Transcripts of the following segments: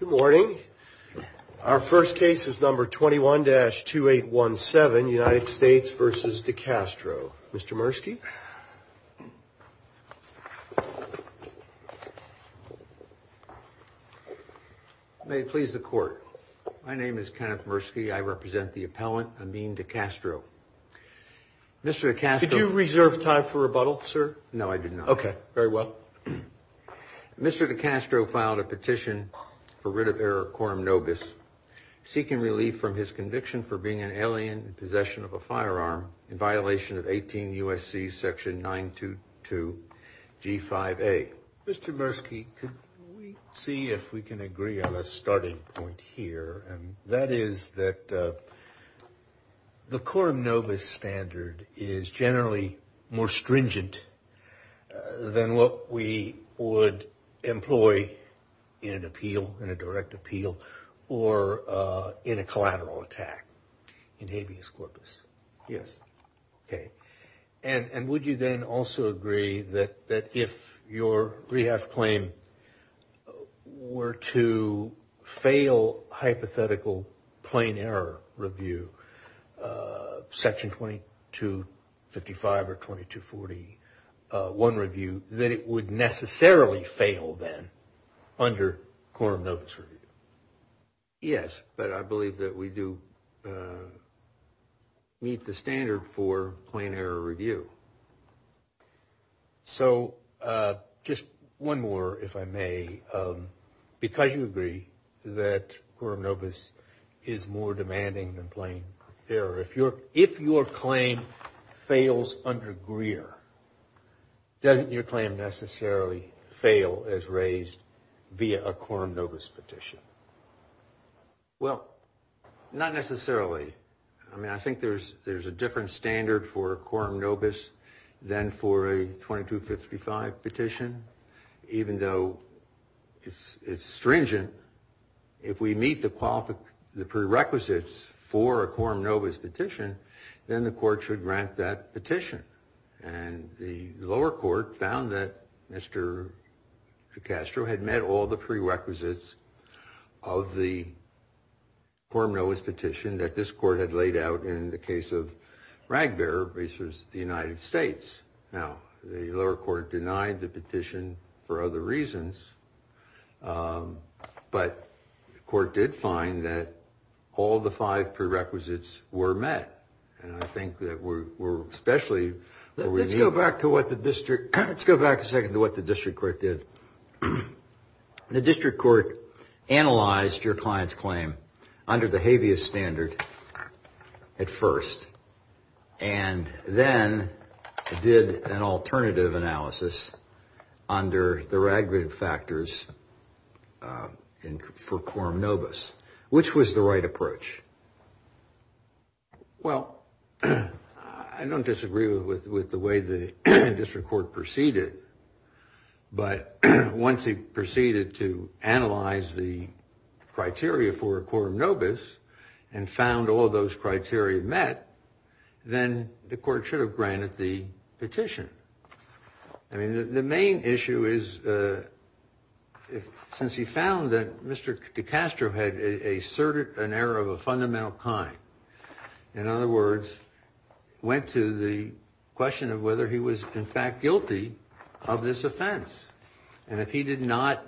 Good morning. Our first case is number 21-2817, United States vs. DeCastro. Mr. Murski. May it please the Court. My name is Kenneth Murski. I represent the appellant, Amin DeCastro. Mr. DeCastro... Did you reserve time for rebuttal, sir? No, I did not. Okay. Very well. Mr. DeCastro filed a petition for rid of error quorum nobis, seeking relief from his conviction for being an alien in possession of a firearm in violation of 18 U.S.C. section 922 G5A. Mr. Murski, could we see if we can agree on a starting point here? And that is that the quorum nobis standard is generally more stringent than what we would employ in an appeal, in a direct appeal, or in a collateral attack in habeas corpus. Yes. Okay. And would you then also agree that if your rehab claim were to fail hypothetical plain error review, section 2255 or 2241 review, that it would necessarily fail then under quorum nobis review? Yes, but I believe that we do meet the standard for plain error review. So, just one more, if I may. Because you agree that quorum nobis is more demanding than plain error, if your claim fails under Greer, doesn't your claim necessarily fail as raised via a quorum nobis petition? Well, not necessarily. I mean, I think there's a different standard for quorum nobis than for a 2255 petition. Even though it's stringent, if we meet the prerequisites for a quorum nobis petition, then the court should grant that petition. And the lower court found that Mr. Castro had met all the prerequisites of the quorum nobis petition that this court had laid out in the case of Bragdair v. the United States. Now, the lower court denied the petition for other reasons, but the court did find that all the five prerequisites were met. Let's go back a second to what the district court did. The district court analyzed your client's claim under the habeas standard at first, and then did an alternative analysis under the ragged factors for quorum nobis. Which was the right approach? Well, I don't disagree with the way the district court proceeded, but once he proceeded to analyze the criteria for quorum nobis and found all those criteria met, then the court should have granted the petition. I mean, the main issue is, since he found that Mr. Castro had asserted an error of a fundamental kind, in other words, went to the question of whether he was in fact guilty of this offense. And if he did not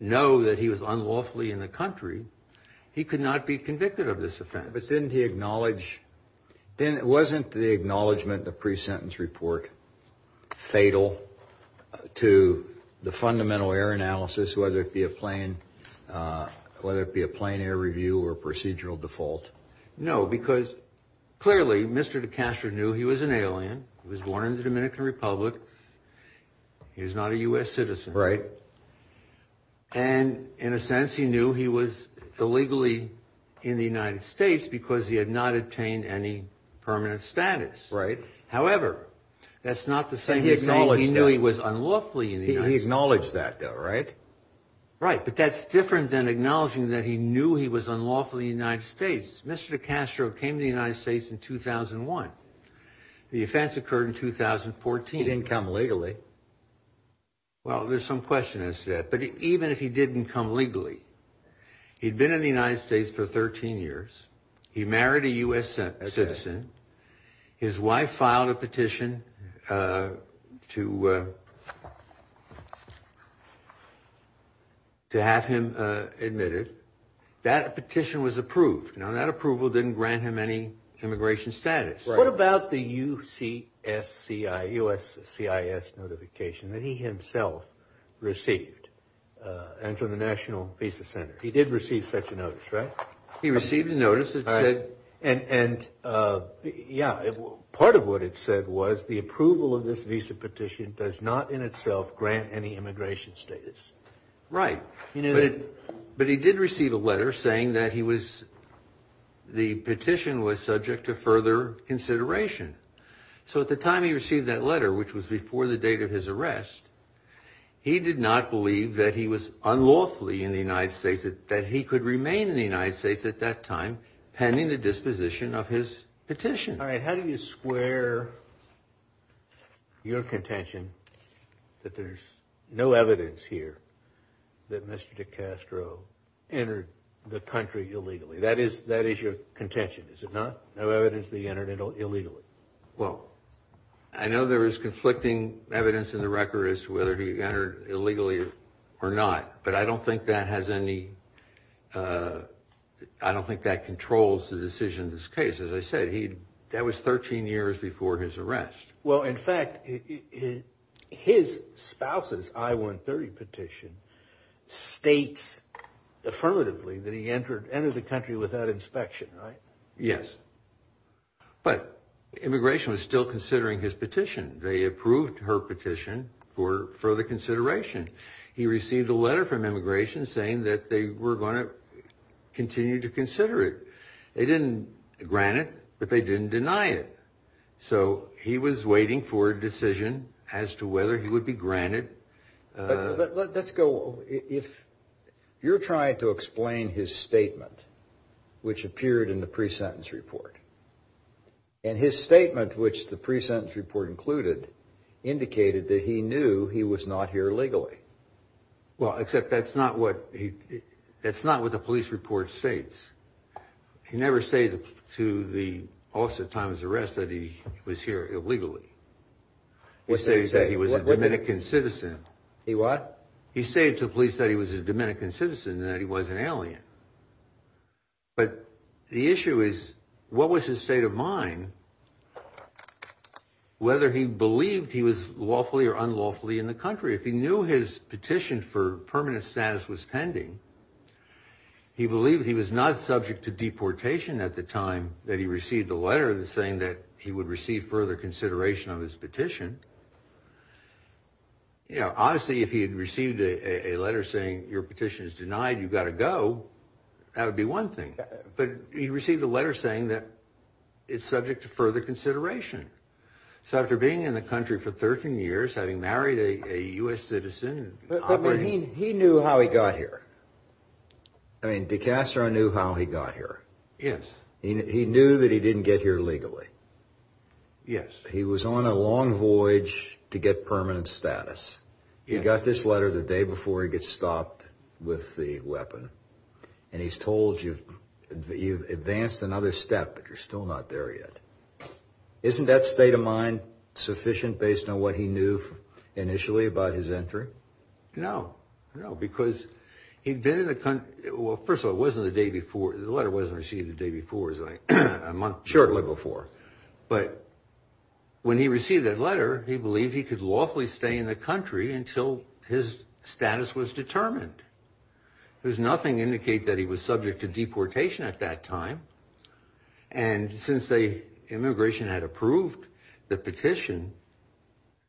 know that he was unlawfully in the country, he could not be convicted of this offense. But didn't he acknowledge, wasn't the acknowledgement of the pre-sentence report fatal to the fundamental error analysis, whether it be a plain error review or procedural default? No, because clearly, Mr. Castro knew he was an alien. He was born in the Dominican Republic. He was not a U.S. citizen. And in a sense, he knew he was illegally in the United States because he had not obtained any permanent status. However, that's not the same way he knew he was unlawfully in the United States. He acknowledged that, though, right? Right, but that's different than acknowledging that he knew he was unlawfully in the United States. Mr. Castro came to the United States in 2001. The offense occurred in 2014. He didn't come legally. Well, there's some question that's there. But even if he didn't come legally, he'd been in the United States for 13 years. He married a U.S. citizen. His wife filed a petition to have him admitted. That petition was approved. Now, that approval didn't grant him any immigration status. What about the USCIS notification that he himself received and to the National Visa Center? He did receive such a notice, right? He received a notice. And yeah, part of what it said was the approval of this visa petition does not in itself grant any immigration status. Right. But he did receive a letter saying that the petition was subject to further consideration. So at the time he received that letter, which was before the date of his arrest, he did not believe that he was unlawfully in the United States, that he could remain in the United States at that time pending the disposition of his petition. All right. How do you square your contention that there's no evidence here that Mr. Castro entered the country illegally? That is your contention, is it not? No evidence that he entered illegally. Well, I know there is conflicting evidence in the record as to whether he entered illegally or not, but I don't think that has any – I don't think that controls the decision in this case. As I said, that was 13 years before his arrest. Well, in fact, his spouse's I-130 petition states affirmatively that he entered the country without inspection, right? Yes. But immigration was still considering his petition. They approved her petition for further consideration. He received a letter from immigration saying that they were going to continue to consider it. They didn't grant it, but they didn't deny it. So he was waiting for a decision as to whether he would be granted – But let's go – if you're trying to explain his statement, which appeared in the pre-sentence report, and his statement, which the pre-sentence report included, indicated that he knew he was not here illegally. Well, except that's not what the police report states. He never stated to the officer at the time of his arrest that he was here illegally. He stated that he was a Dominican citizen. He what? for permanent status was pending. He believed he was not subject to deportation at the time that he received the letter saying that he would receive further consideration of his petition. You know, honestly, if he had received a letter saying, your petition is denied, you've got to go, that would be one thing. But he received a letter saying that it's subject to further consideration. So after being in the country for 13 years, having married a U.S. citizen – I mean, de Castro knew how he got here. Yes. He knew that he didn't get here legally. Yes. He was on a long voyage to get permanent status. Yes. He got this letter the day before he gets stopped with the weapon, and he's told you've advanced another step, but you're still not there yet. Isn't that state of mind sufficient based on what he knew initially about his entry? No. No, because he'd been in the country – well, first of all, it wasn't the day before. The letter wasn't received the day before. It was like a month – shortly before. But when he received that letter, he believed he could lawfully stay in the country until his status was determined. There's nothing to indicate that he was subject to deportation at that time, and since the immigration had approved the petition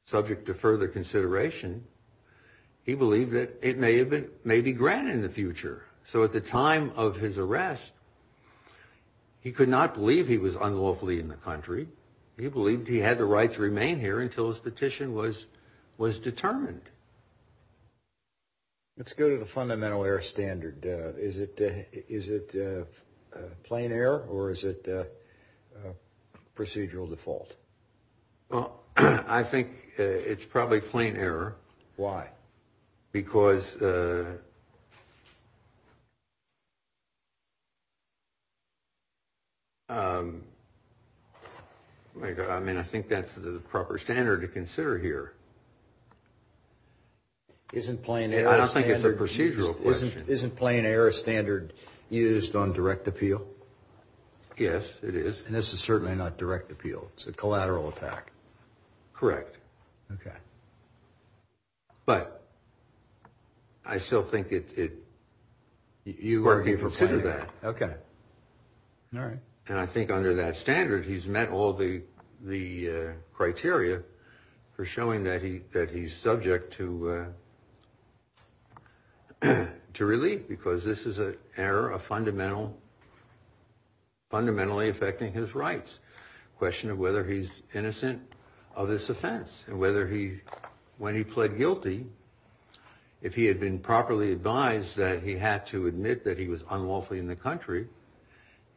subject to further consideration, he believed that it may be granted in the future. So at the time of his arrest, he could not believe he was unlawfully in the country. He believed he had the right to remain here until his petition was determined. Let's go to the fundamental error standard. Is it plain error, or is it procedural default? Well, I think it's probably plain error. Why? Because – I mean, I think that's the proper standard to consider here. I don't think it's a procedural question. Isn't plain error a standard used on direct appeal? Yes, it is. And this is certainly not direct appeal. It's a collateral attack. Correct. Okay. But I still think it – you can consider that. Okay. All right. And I think under that standard, he's met all the criteria for showing that he's subject to relief because this is an error fundamentally affecting his rights. The question of whether he's innocent of this offense and whether he – when he pled guilty, if he had been properly advised that he had to admit that he was unlawfully in the country,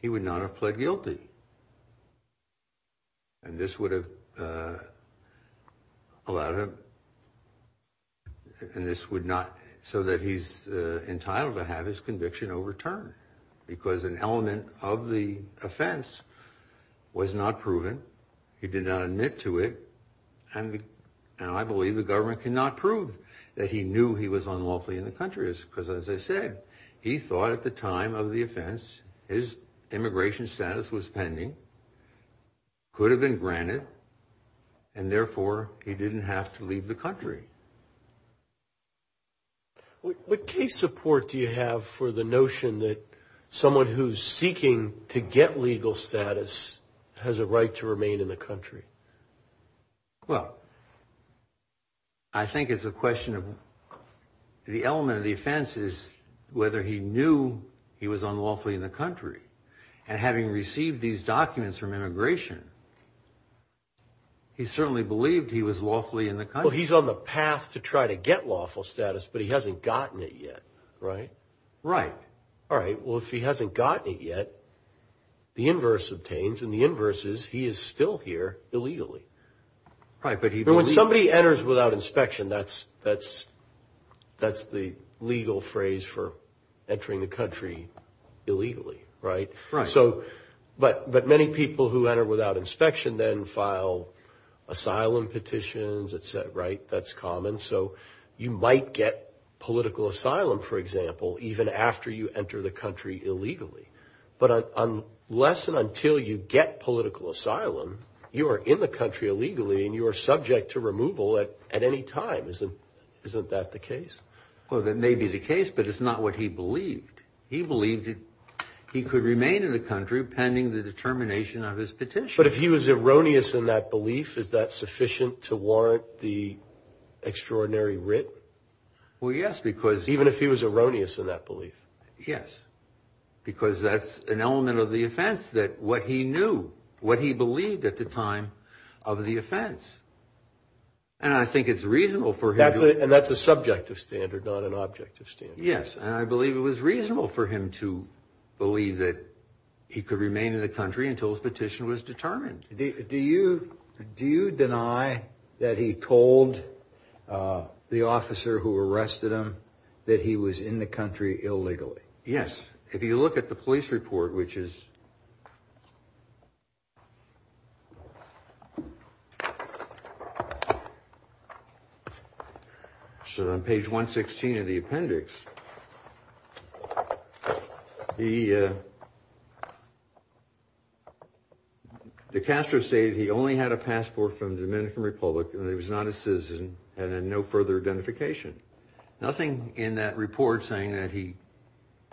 he would not have pled guilty. And this would have allowed him – and this would not – so that he's entitled to have his conviction overturned because an element of the offense was not proven. He did not admit to it. And I believe the government cannot prove that he knew he was unlawfully in the country because, as I said, he thought at the time of the offense his immigration status was pending, could have been granted, and therefore he didn't have to leave the country. What case support do you have for the notion that someone who's seeking to get legal status has a right to remain in the country? Well, I think it's a question of – the element of the offense is whether he knew he was unlawfully in the country. And having received these documents from immigration, he certainly believed he was lawfully in the country. Well, he's on the path to try to get lawful status, but he hasn't gotten it yet, right? Right. All right. Well, if he hasn't gotten it yet, the inverse obtains, and the inverse is he is still here illegally. Right, but he – When somebody enters without inspection, that's the legal phrase for entering a country illegally, right? Right. So – but many people who enter without inspection then file asylum petitions, et cetera, right? That's common, so you might get political asylum, for example, even after you enter the country illegally. But unless and until you get political asylum, you are in the country illegally and you are subject to removal at any time. Isn't that the case? Well, that may be the case, but it's not what he believed. He believed he could remain in the country pending the determination of his petition. But if he was erroneous in that belief, is that sufficient to warrant the extraordinary writ? Well, yes, because – Even if he was erroneous in that belief? Yes, because that's an element of the offense, that what he knew, what he believed at the time of the offense. And I think it's reasonable for him to – And that's a subject of standard, not an object of standard. Yes, and I believe it was reasonable for him to believe that he could remain in the country until his petition was determined. Do you deny that he told the officer who arrested him that he was in the country illegally? Yes. If you look at the police report, which is on page 116 of the appendix, the caster stated he only had a passport from the Dominican Republic and that he was not a citizen and had no further identification. Nothing in that report saying that he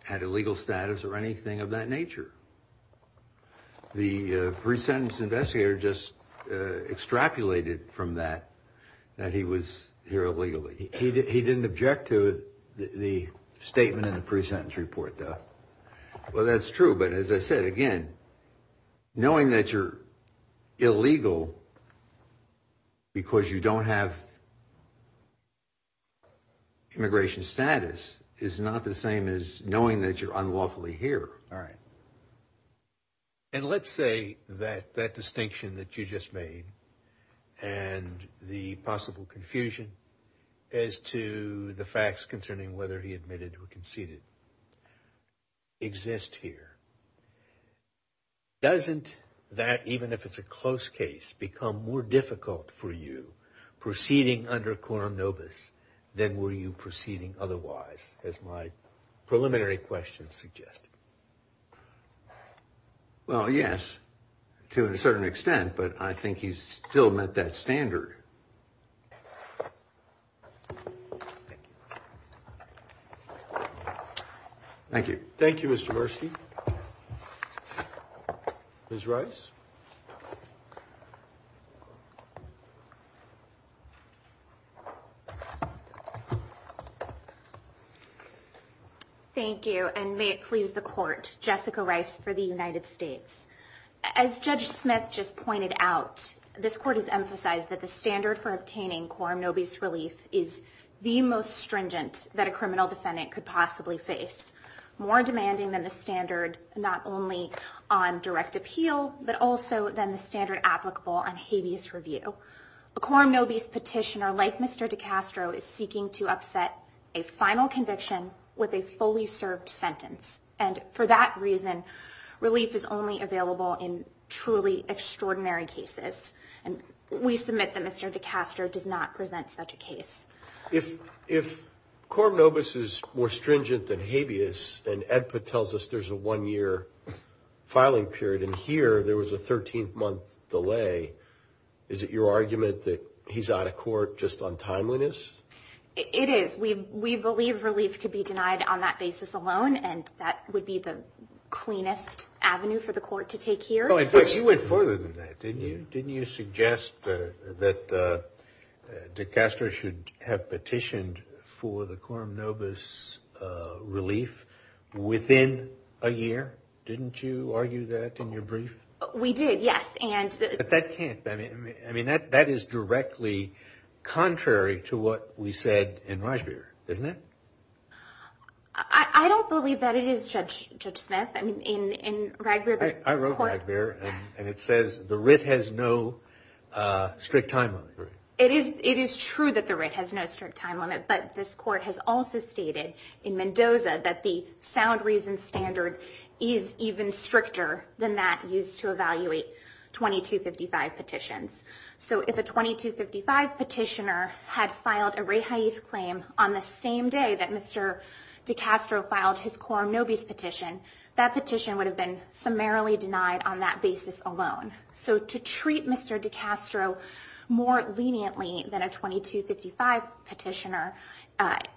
had a legal status or anything of that nature. The pre-sentence investigator just extrapolated from that that he was here illegally. He didn't object to the statement in the pre-sentence report, though. Well, that's true, but as I said again, knowing that you're illegal because you don't have immigration status is not the same as knowing that you're unlawfully here. All right. And let's say that that distinction that you just made and the possible confusion as to the facts concerning whether he admitted or conceded exist here. Doesn't that, even if it's a close case, become more difficult for you proceeding under Quorum Novus than were you proceeding otherwise, as my preliminary questions suggest? Well, yes, to a certain extent, but I think he's still met that standard. Thank you. Thank you, Mr. Morski. Ms. Rice? Thank you, and may it please the Court, Jessica Rice for the United States. As Judge Smith just pointed out, this Court has emphasized that the standard for obtaining Quorum Novus relief is the most stringent that a criminal defendant could possibly face. More demanding than the standard not only on direct appeal, but also than the standard applicable on habeas review. A Quorum Novus petitioner like Mr. DiCastro is seeking to upset a final conviction with a fully served sentence. And for that reason, relief is only available in truly extraordinary cases. And we submit that Mr. DiCastro did not present such a case. If Quorum Novus is more stringent than habeas, and EDPA tells us there's a one-year filing period, and here there was a 13-month delay, is it your argument that he's out of court just on timeliness? It is. We believe relief could be denied on that basis alone, and that would be the cleanest avenue for the Court to take here. Oh, in fact, you went further than that, didn't you? Didn't you suggest that DiCastro should have petitioned for the Quorum Novus relief within a year? Didn't you argue that in your brief? We did, yes. But that can't. I mean, that is directly contrary to what we said in Ragbir, isn't it? I don't believe that it is, Judge Smith. I wrote Ragbir, and it says the writ has no strict time limit. It is true that the writ has no strict time limit, but this Court has also stated in Mendoza that the sound reason standard is even stricter than that used to evaluate 2255 petitions. So if a 2255 petitioner had filed a rehase claim on the same day that Mr. DiCastro filed his Quorum Novus petition, that petition would have been summarily denied on that basis alone. So to treat Mr. DiCastro more leniently than a 2255 petitioner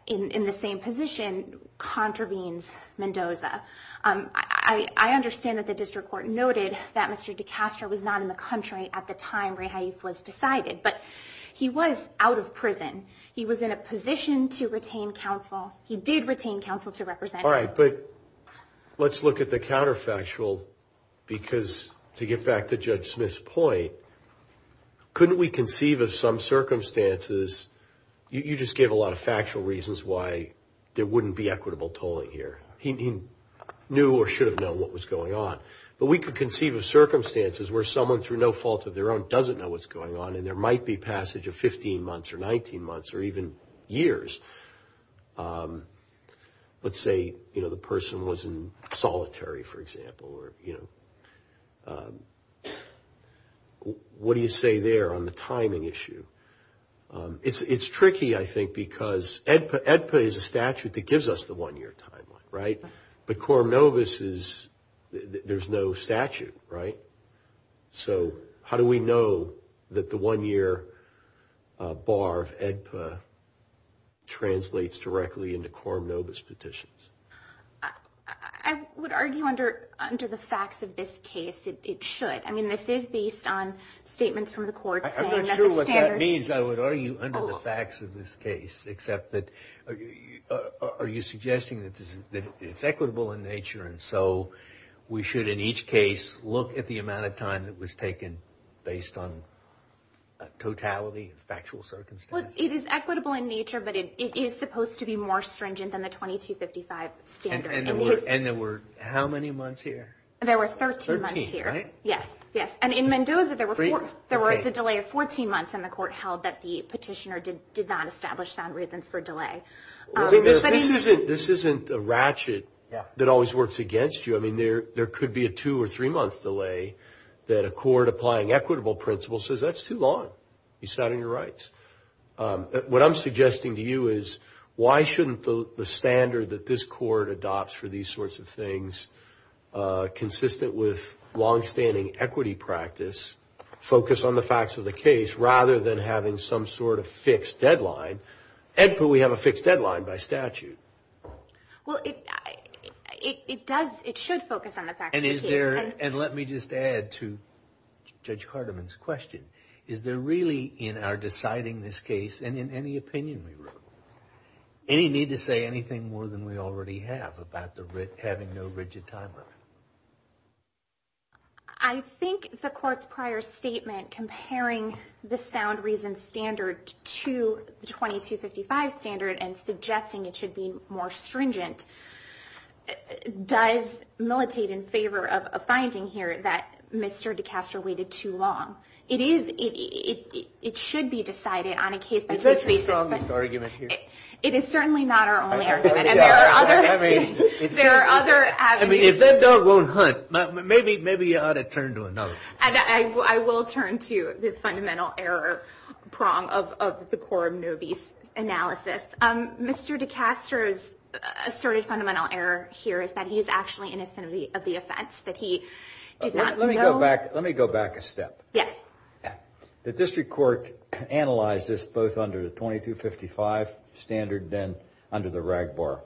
in the same position contravenes Mendoza. I understand that the District Court noted that Mr. DiCastro was not in the country at the time rehase was decided, but he was out of prison. He was in a position to retain counsel. He did retain counsel to represent him. All right, but let's look at the counterfactual, because to get back to Judge Smith's point, couldn't we conceive of some circumstances? You just gave a lot of factual reasons why there wouldn't be equitable tolling here. He knew or should have known what was going on. But we could conceive of circumstances where someone, through no fault of their own, doesn't know what's going on, and there might be passage of 15 months or 19 months or even years. Let's say the person was in solitary, for example. What do you say there on the timing issue? It's tricky, I think, because EDPA is a statute that gives us the one-year timeline, right? But Quorum Novus, there's no statute, right? So how do we know that the one-year bar of EDPA translates directly into Quorum Novus petitions? I would argue under the facts of this case, it should. I mean, this is based on statements from the courts. I'm not sure what that means. I would argue under the facts of this case, except that are you suggesting that it's equitable in nature, and so we should, in each case, look at the amount of time that was taken based on totality, factual circumstances? Well, it is equitable in nature, but it is supposed to be more stringent than the 2255 standard. And there were how many months here? There were 13 months here. 13, right? Yes, yes. And in Mendoza, there was a delay of 14 months, and the court held that the petitioner did not establish sound reasons for delay. This isn't a ratchet that always works against you. I mean, there could be a two- or three-month delay that a court applying equitable principles says, that's too long. It's not in your rights. What I'm suggesting to you is, why shouldn't the standard that this court adopts for these sorts of things, consistent with long-standing equity practice, focus on the facts of the case rather than having some sort of fixed deadline? Actually, we have a fixed deadline by statute. Well, it does. And let me just add to Judge Cartiman's question. Is there really, in our deciding this case, and in any opinion we wrote, any need to say anything more than we already have about having no rigid timeline? I think the court's prior statement, comparing the sound reasons standard to the 2255 standard and suggesting it should be more stringent, does militate in favor of a finding here that Mr. DeCastro waited too long. It should be decided on a case- It's a strong argument here. It is certainly not our only argument, and there are other avenues. I mean, if that dog won't hunt, maybe you ought to turn to another. I will turn to the fundamental error prong of the Coram Nobis analysis. Mr. DeCastro's asserted fundamental error here is that he is actually innocent of the offense, that he did not know- Let me go back a step. Yes. The district court analyzed this both under the 2255 standard and under the RAGBAR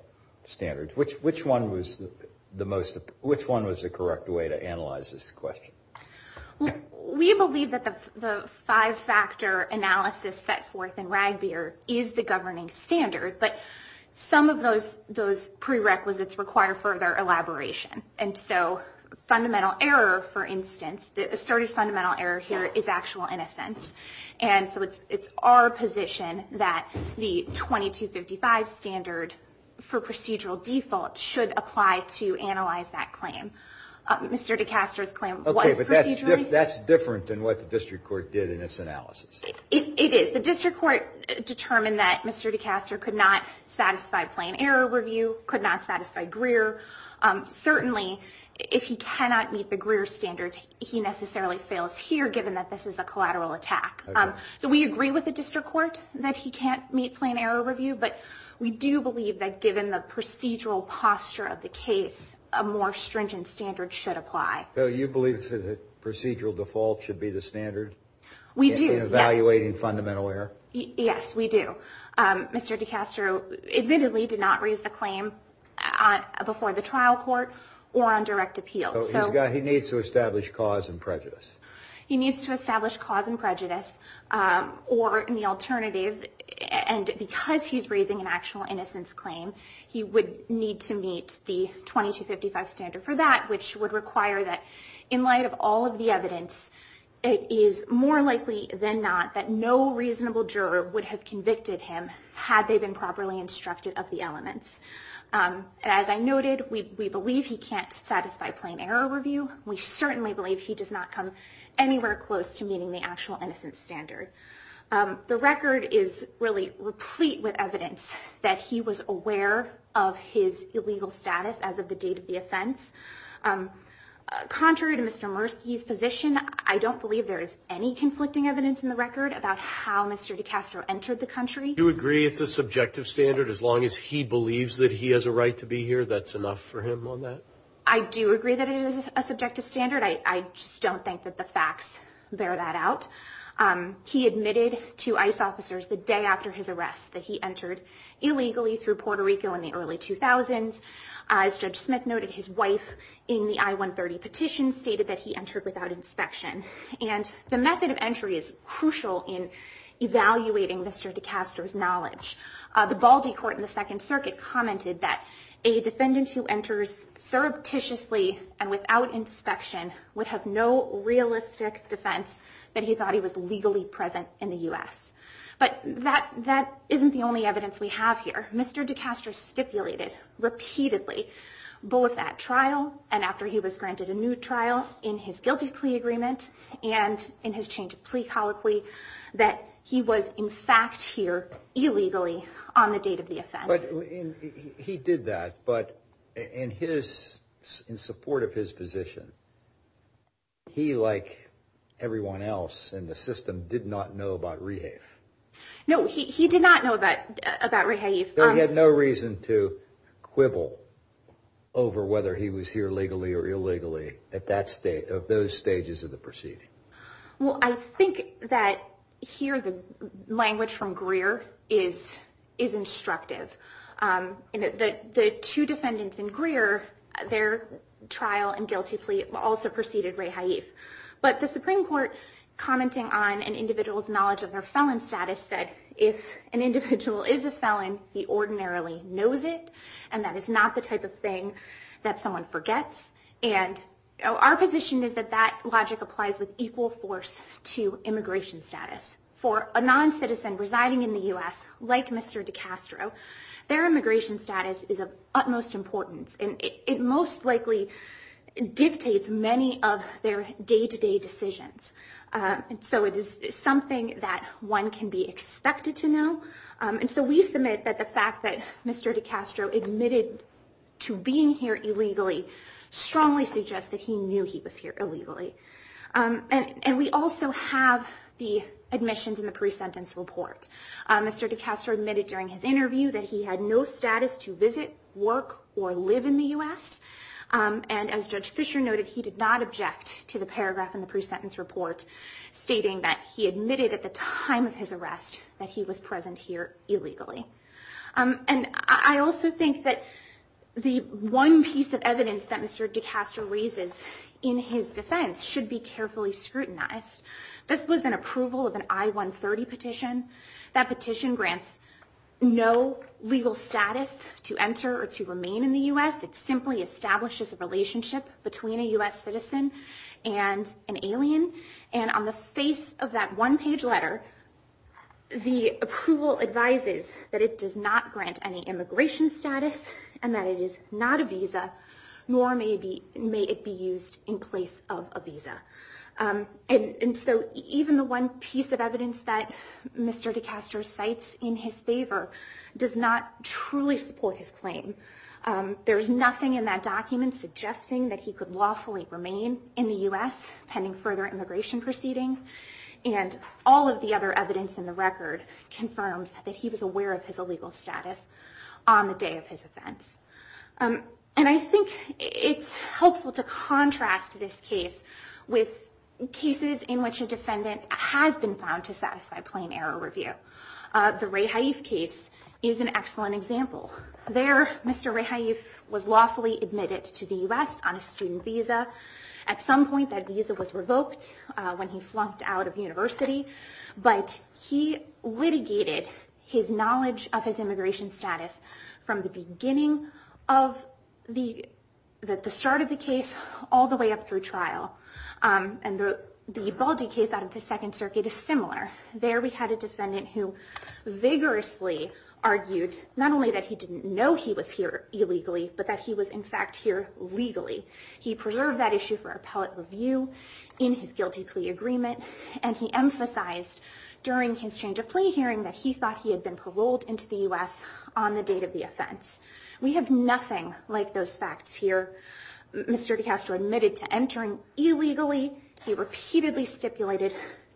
standard. Which one was the correct way to analyze this question? We believe that the five-factor analysis set forth in RAGBAR is the governing standard, but some of those prerequisites require further elaboration. Fundamental error, for instance, the asserted fundamental error here is actual innocence. It's our position that the 2255 standard for procedural default should apply to analyze that claim. Mr. DeCastro's claim was procedurally- Okay, but that's different than what the district court did in its analysis. It is. The district court determined that Mr. DeCastro could not satisfy plain error review, could not satisfy Greer. Certainly, if he cannot meet the Greer standard, he necessarily fails here, given that this is a collateral attack. We agree with the district court that he can't meet plain error review, but we do believe that given the procedural posture of the case, a more stringent standard should apply. So you believe that procedural default should be the standard? We do, yes. In evaluating fundamental error? Yes, we do. Mr. DeCastro admittedly did not raise a claim before the trial court or on direct appeal. So he needs to establish cause and prejudice. He needs to establish cause and prejudice, or the alternative, and because he's raising an actual innocence claim, he would need to meet the 2255 standard for that, which would require that in light of all of the evidence, it is more likely than not that no reasonable juror would have convicted him had they been properly instructed of the elements. As I noted, we believe he can't satisfy plain error review. We certainly believe he does not come anywhere close to meeting the actual innocence standard. The record is really replete with evidence that he was aware of his illegal status as of the date of the offense. Contrary to Mr. Mursky's position, I don't believe there is any conflicting evidence in the record about how Mr. DeCastro entered the country. Do you agree with the subjective standard? As long as he believes that he has a right to be here, that's enough for him on that? I do agree that it is a subjective standard. I just don't think that the facts bear that out. He admitted to ICE officers the day after his arrest that he entered illegally through Puerto Rico in the early 2000s. As Judge Smith noted, his wife in the I-130 petition stated that he entered without inspection. And the method of entry is crucial in evaluating Mr. DeCastro's knowledge. The Baldy Court in the Second Circuit commented that a defendant who enters surreptitiously and without inspection would have no realistic defense that he thought he was legally present in the U.S. But that isn't the only evidence we have here. Mr. DeCastro stipulated repeatedly both at trial and after he was granted a new trial in his guilty plea agreement and in his change of plea colloquy that he was in fact here illegally on the date of the offense. He did that, but in support of his position, he, like everyone else in the system, did not know about rehab. No, he did not know about rehab. He had no reason to quibble over whether he was here legally or illegally at those stages of the proceeding. Well, I think that here the language from Greer is instructive. The two defendants in Greer, their trial and guilty plea also preceded rehab. The Supreme Court, commenting on an individual's knowledge of their felon status, said if an individual is a felon, he ordinarily knows it, and that is not the type of thing that someone forgets. Our position is that that logic applies with equal force to immigration status. And so we think that the fact that Mr. DeCastro admitted to being here illegally strongly suggests that he knew he was here illegally. And we also have the admissions and the pre-sentence report. Mr. DeCastro admitted during his interview that he had no status to visit, work, or live in the U.S. And as Judge Fisher noted, he did not object to the paragraph in the pre-sentence report stating that he admitted at the time of his arrest that he was present here illegally. And I also think that the one piece of evidence that Mr. DeCastro raises in his defense should be carefully scrutinized. This was an approval of an I-130 petition. That petition grants no legal status to enter or to remain in the U.S. It simply establishes a relationship between a U.S. citizen and an alien. And on the face of that one-page letter, the approval advises that it does not grant any immigration status and that it is not a visa, nor may it be used in place of a visa. And so even the one piece of evidence that Mr. DeCastro cites in his favor does not truly support his claim. There is nothing in that document suggesting that he could lawfully remain in the U.S. pending further immigration proceedings. And all of the other evidence in the record confirms that he was aware of his illegal status on the day of his offense. And I think it's helpful to contrast this case with cases in which a defendant has been found to satisfy plain error review. The Ray Haise case is an excellent example. There, Mr. Ray Haise was lawfully admitted to the U.S. on a student visa. At some point, that visa was revoked when he flunked out of university. But he litigated his knowledge of his immigration status from the beginning of the start of the case all the way up through trial. And the Baldi case out of the Second Circuit is similar. There, we had a defendant who vigorously argued not only that he didn't know he was here illegally, but that he was, in fact, here legally. He preserved that issue for appellate review in his guilty plea agreement. And he emphasized during his change of plea hearing that he thought he had been paroled into the U.S. on the date of the offense. We have nothing like those facts here. Mr. DeCastro admitted to entering illegally. He repeatedly stipulated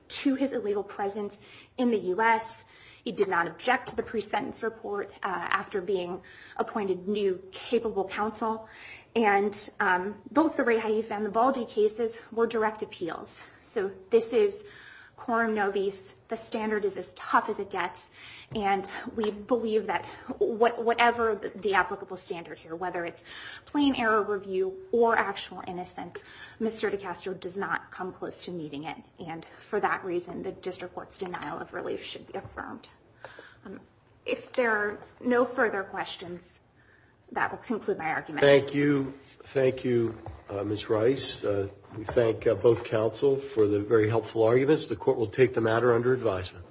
to his illegal presence in the U.S. He did not object to the pre-sentence report after being appointed new capable counsel. And both the Ray Haise and the Baldi cases were direct appeals. So this is quorum nobis. The standard is as tough as it gets. And we believe that whatever the applicable standard here, whether it's plain error review or actual innocence, Mr. DeCastro does not come close to meeting it. And for that reason, the district court's denial of relief should be affirmed. If there are no further questions, that would conclude my argument. Thank you. Thank you, Ms. Rice. We thank both counsel for the very helpful arguments. The court will take the matter under advisement.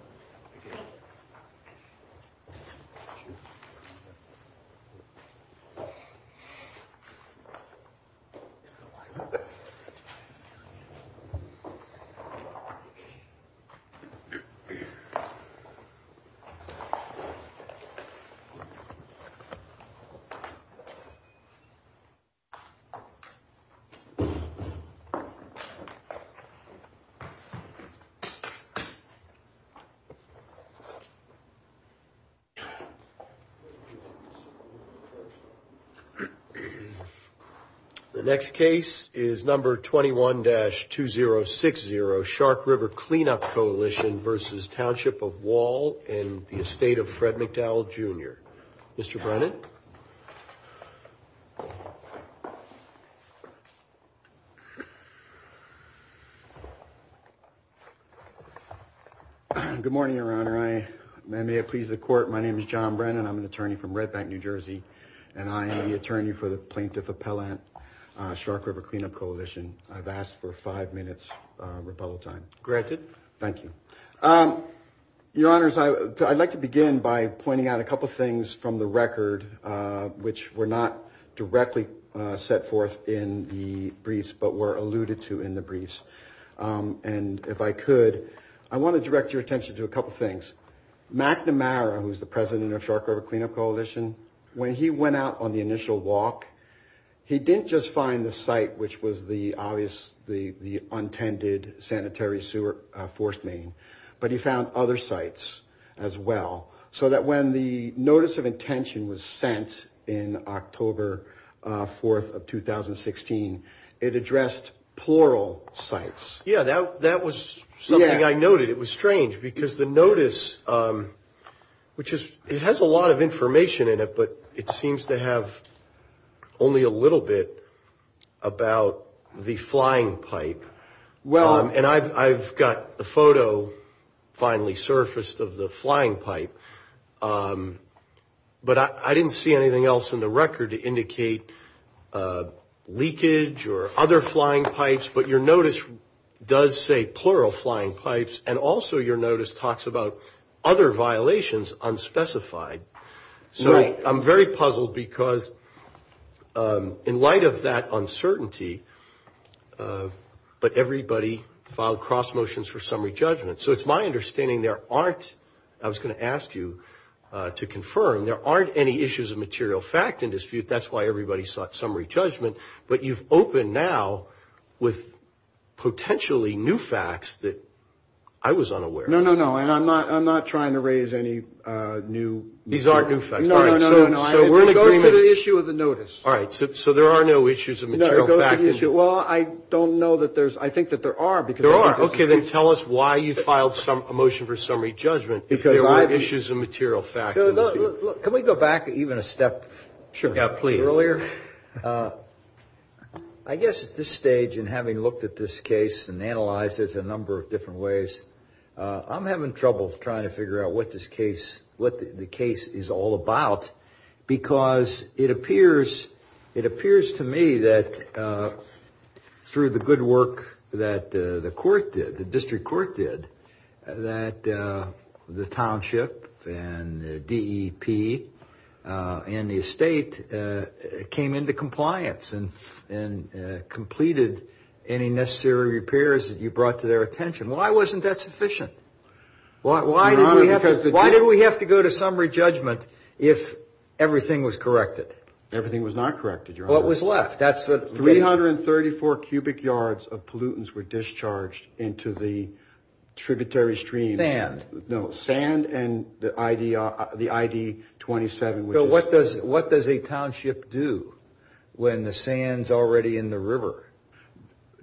The next case is number 21-2060, Sharp River Cleanup Coalition versus Township of Wall in the estate of Fred McDowell, Jr. Mr. Brennan. Good morning, Your Honor. May it please the court, my name is John Brennan. I'm an attorney from Redback, New Jersey, and I am the attorney for the plaintiff appellant, Sharp River Cleanup Coalition. I've asked for five minutes rebuttal time. Granted. Thank you. Your Honors, I'd like to begin by pointing out a couple things from the record which were not directly set forth in the briefs but were alluded to in the briefs. And if I could, I want to direct your attention to a couple things. Matt Nomara, who's the president of Sharp River Cleanup Coalition, when he went out on the initial walk, he didn't just find the site which was the obvious, the untended sanitary sewer force main, but he found other sites as well. So that when the notice of intention was sent in October 4th of 2016, it addressed plural sites. Yeah, that was something I noted. It was strange because the notice, which has a lot of information in it, but it seems to have only a little bit about the flying pipe. And I've got the photo finally surfaced of the flying pipe. But I didn't see anything else in the record to indicate leakage or other flying pipes. But your notice does say plural flying pipes, and also your notice talks about other violations unspecified. So I'm very puzzled because in light of that uncertainty, but everybody filed cross motions for summary judgment. So it's my understanding there aren't, I was going to ask you to confirm, there aren't any issues of material fact in dispute. That's why everybody sought summary judgment. But you've opened now with potentially new facts that I was unaware of. No, no, no. I'm not trying to raise any new. These aren't new facts. No, no, no. We'll go to the issue of the notice. All right. So there are no issues of material fact. Well, I don't know that there's, I think that there are. There are. Okay, then tell us why you filed a motion for summary judgment. There are issues of material fact. Look, can we go back even a step earlier? I guess at this stage, and having looked at this case and analyzed it a number of different ways, I'm having trouble trying to figure out what this case, what the case is all about. Because it appears to me that through the good work that the court did, the district court did, that the township and DEP and the estate came into compliance and completed any necessary repairs that you brought to their attention. Why wasn't that sufficient? Why did we have to go to summary judgment if everything was corrected? Everything was not corrected, Your Honor. What was left? 334 cubic yards of pollutants were discharged into the tributary stream. Sand. No, sand and the ID 27. So what does a township do when the sand's already in the river?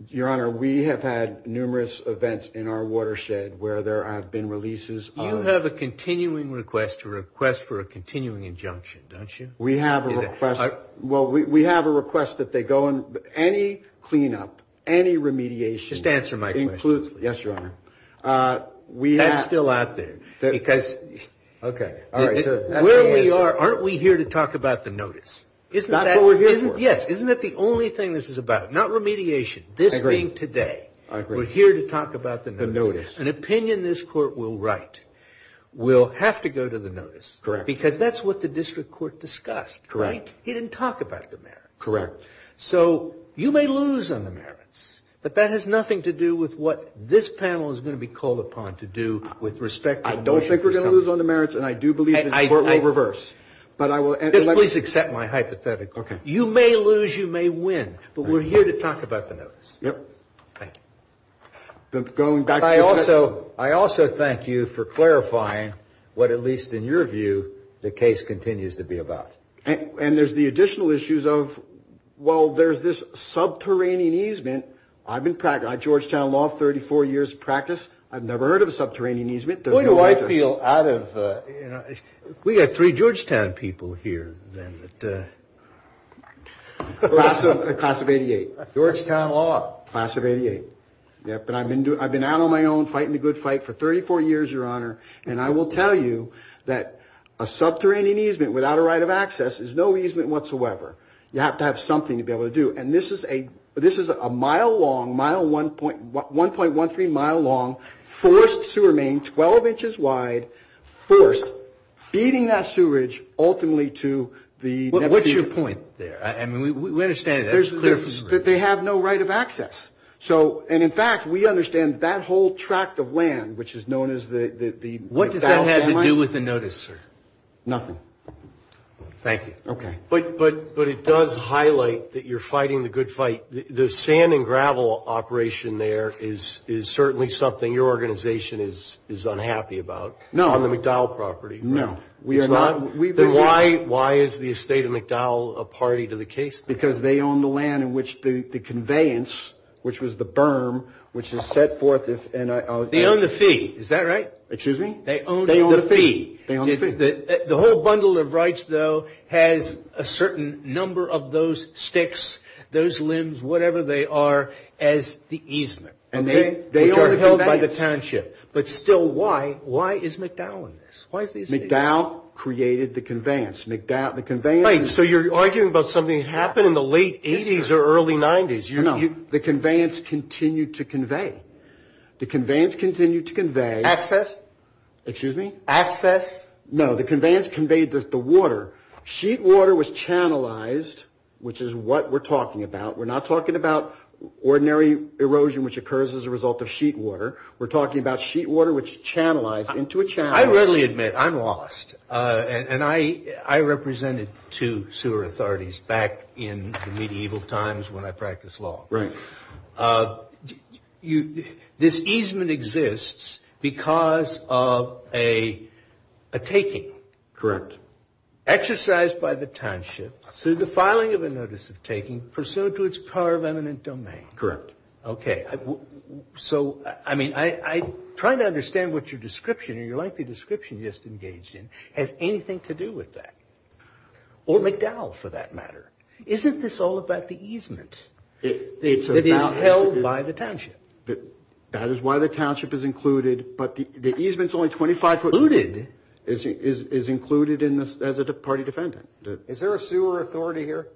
Your Honor, we have had numerous events in our watershed where there have been releases. You have a continuing request to request for a continuing injunction, don't you? We have a request. Well, we have a request that they go on any cleanup, any remediation. Just answer my question. Yes, Your Honor. That's still out there. Okay. Where we are, aren't we here to talk about the notice? Isn't that what we're here for? No, not remediation. This meeting today, we're here to talk about the notice. An opinion this court will write will have to go to the notice because that's what the district court discussed, right? He didn't talk about the merits. So you may lose on the merits, but that has nothing to do with what this panel is going to be called upon to do with respect to the notice. I don't think we're going to lose on the merits, and I do believe this court will reverse. Please accept my hypothetical. Okay. You may lose, you may win, but we're here to talk about the notice. Yep. Thank you. I also thank you for clarifying what, at least in your view, the case continues to be about. And there's the additional issues of, well, there's this subterranean easement. I've been practicing Georgetown law 34 years of practice. I've never heard of a subterranean easement. What do I feel out of, you know, we have three Georgetown people here. Class of 88. Georgetown law. Class of 88. But I've been out on my own fighting the good fight for 34 years, Your Honor, and I will tell you that a subterranean easement without a right of access is no easement whatsoever. You have to have something to be able to do. And this is a mile-long, 1.13-mile-long forest sewer main, 12 inches wide, first feeding that sewage ultimately to the neighborhood. What's your point there? I mean, we understand that. They have no right of access. And, in fact, we understand that whole tract of land, which is known as the... What does that have to do with the notice, sir? Nothing. Thank you. Okay. But it does highlight that you're fighting the good fight. The sand and gravel operation there is certainly something your organization is unhappy about. No. On the McDowell property. No. Why is the estate of McDowell a party to the case? Because they own the land in which the conveyance, which was the berm, which is set forth... They own the fee. Is that right? Excuse me? They own the fee. They own the fee. The whole bundle of rights, though, has a certain number of those sticks, those limbs, whatever they are, as the easement. And they are held by the township. But still, why? Why is McDowell in this? McDowell created the conveyance. So you're arguing about something that happened in the late 80s or early 90s. No. The conveyance continued to convey. The conveyance continued to convey. Access. Excuse me? Access. No. The conveyance conveyed the water. Sheet water was channelized, which is what we're talking about. We're not talking about ordinary erosion, which occurs as a result of sheet water. We're talking about sheet water, which is channelized into a channel. I readily admit, I'm lost. And I represented two sewer authorities back in the medieval times when I practiced law. Right. This easement exists because of a taking. Correct. Exercised by the township through the filing of a notice of taking, pursuant to its power of eminent domain. Correct. OK. So, I mean, I'm trying to understand what your description, your lengthy description you just engaged in, has anything to do with that. Or McDowell, for that matter. Isn't this all about the easement? It is held by the township. That is why the township is included. But the easement is only 25 foot. Included? Is included as a party defendant. Is there a sewer authority here?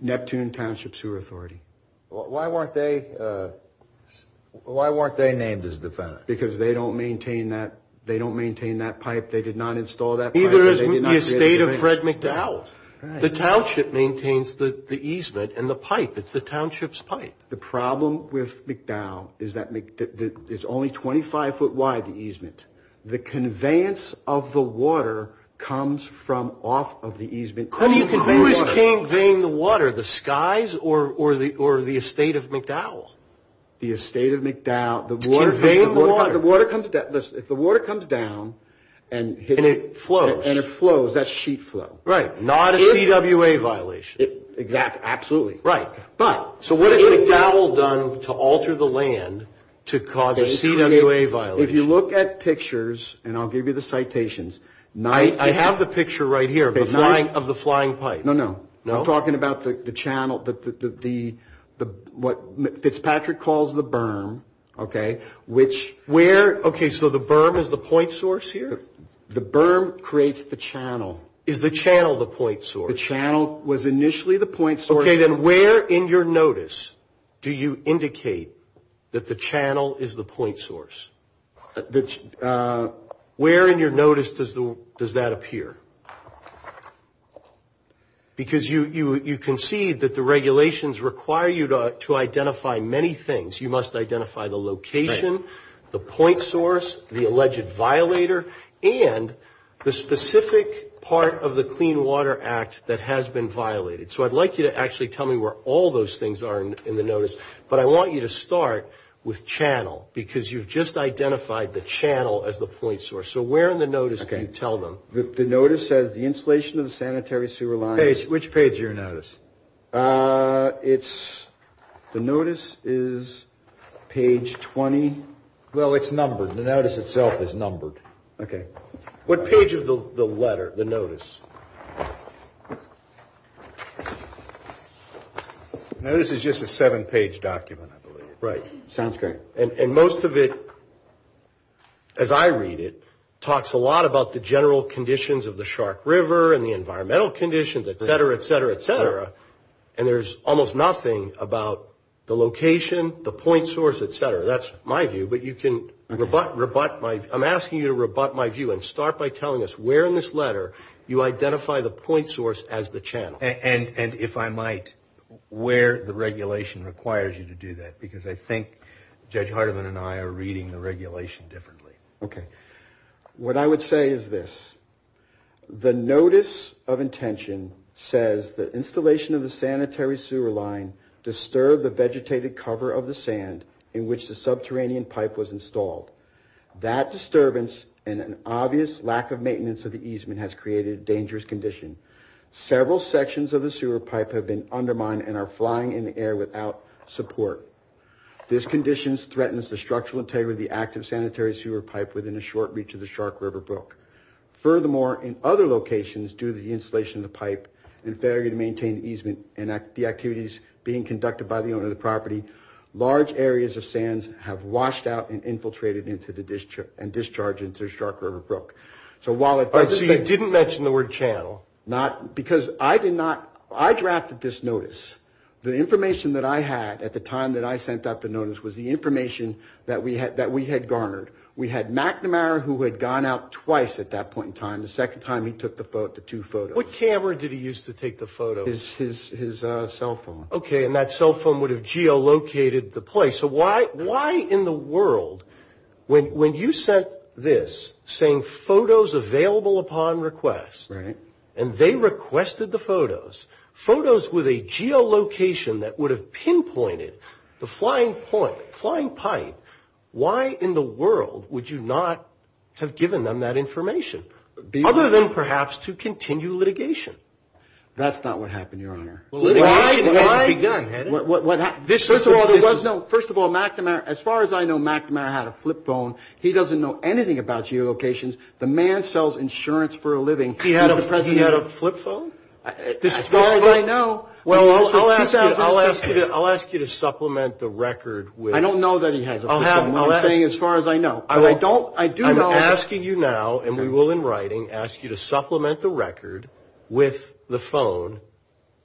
Neptune Township Sewer Authority. Why weren't they named as defendants? Because they don't maintain that pipe. They did not install that pipe. Neither is the estate of Fred McDowell. The township maintains the easement and the pipe. It's the township's pipe. The problem with McDowell is that it's only 25 foot wide, the easement. The conveyance of the water comes from off of the easement. Who is conveying the water? The skies or the estate of McDowell? The estate of McDowell. To convey the water. If the water comes down and it flows, that's sheet flow. Not a CWA violation. Absolutely. What has McDowell done to alter the land to cause a CWA violation? If you look at pictures, and I'll give you the citations. I have the picture right here of the flying pipe. No, no. I'm talking about the channel, what Fitzpatrick calls the berm. Okay, so the berm is the point source here? The berm creates the channel. Is the channel the point source? The channel was initially the point source. Okay, then where in your notice do you indicate that the channel is the point source? Where in your notice does that appear? Because you concede that the regulations require you to identify many things. You must identify the location, the point source, the alleged violator, and the specific part of the Clean Water Act that has been violated. So I'd like you to actually tell me where all those things are in the notice, but I want you to start with channel because you've just identified the channel as the point source. So where in the notice can you tell them? The notice says the installation of the sanitary sewer line. Which page of your notice? It's the notice is page 20. Well, it's numbered. The notice itself is numbered. Okay. What page of the letter, the notice? The notice is just a seven-page document, I believe. Right, sounds great. And most of it, as I read it, talks a lot about the general conditions of the Shark River and the environmental conditions, et cetera, et cetera, et cetera, but I'm asking you to rebut my view and start by telling us where in this letter you identify the point source as the channel. And if I might, where the regulation requires you to do that because I think Judge Hardiman and I are reading the regulation differently. Okay. What I would say is this. The notice of intention says the installation of the sanitary sewer line disturbed the vegetated cover of the sand in which the subterranean pipe was installed. That disturbance and an obvious lack of maintenance of the easement has created a dangerous condition. Several sections of the sewer pipe have been undermined and are flying in the air without support. This condition threatens the structural integrity of the active sanitary sewer pipe within a short reach of the Shark River brook. Furthermore, in other locations, due to the installation of the pipe, and failure to maintain the easement and the activities being conducted by the owner of the property, large areas of sands have washed out and infiltrated and discharged into the Shark River brook. So you didn't mention the word channel. Because I drafted this notice. The information that I had at the time that I sent out the notice was the information that we had garnered. We had McNamara, who had gone out twice at that point in time, the second time he took the two photos. What camera did he use to take the photos? His cell phone. Okay, and that cell phone would have geolocated the place. So why in the world, when you sent this, saying photos available upon request, and they requested the photos, photos with a geolocation that would have pinpointed the flying pipe, why in the world would you not have given them that information? Other than perhaps to continue litigation. That's not what happened, Your Honor. Why? First of all, as far as I know, McNamara had a flip phone. He doesn't know anything about geolocations. The man sells insurance for a living. He had a flip phone? As far as I know. Well, I'll ask you to supplement the record. I don't know that he has a flip phone. I'm saying as far as I know. I'm asking you now, and we will in writing, ask you to supplement the record with the phone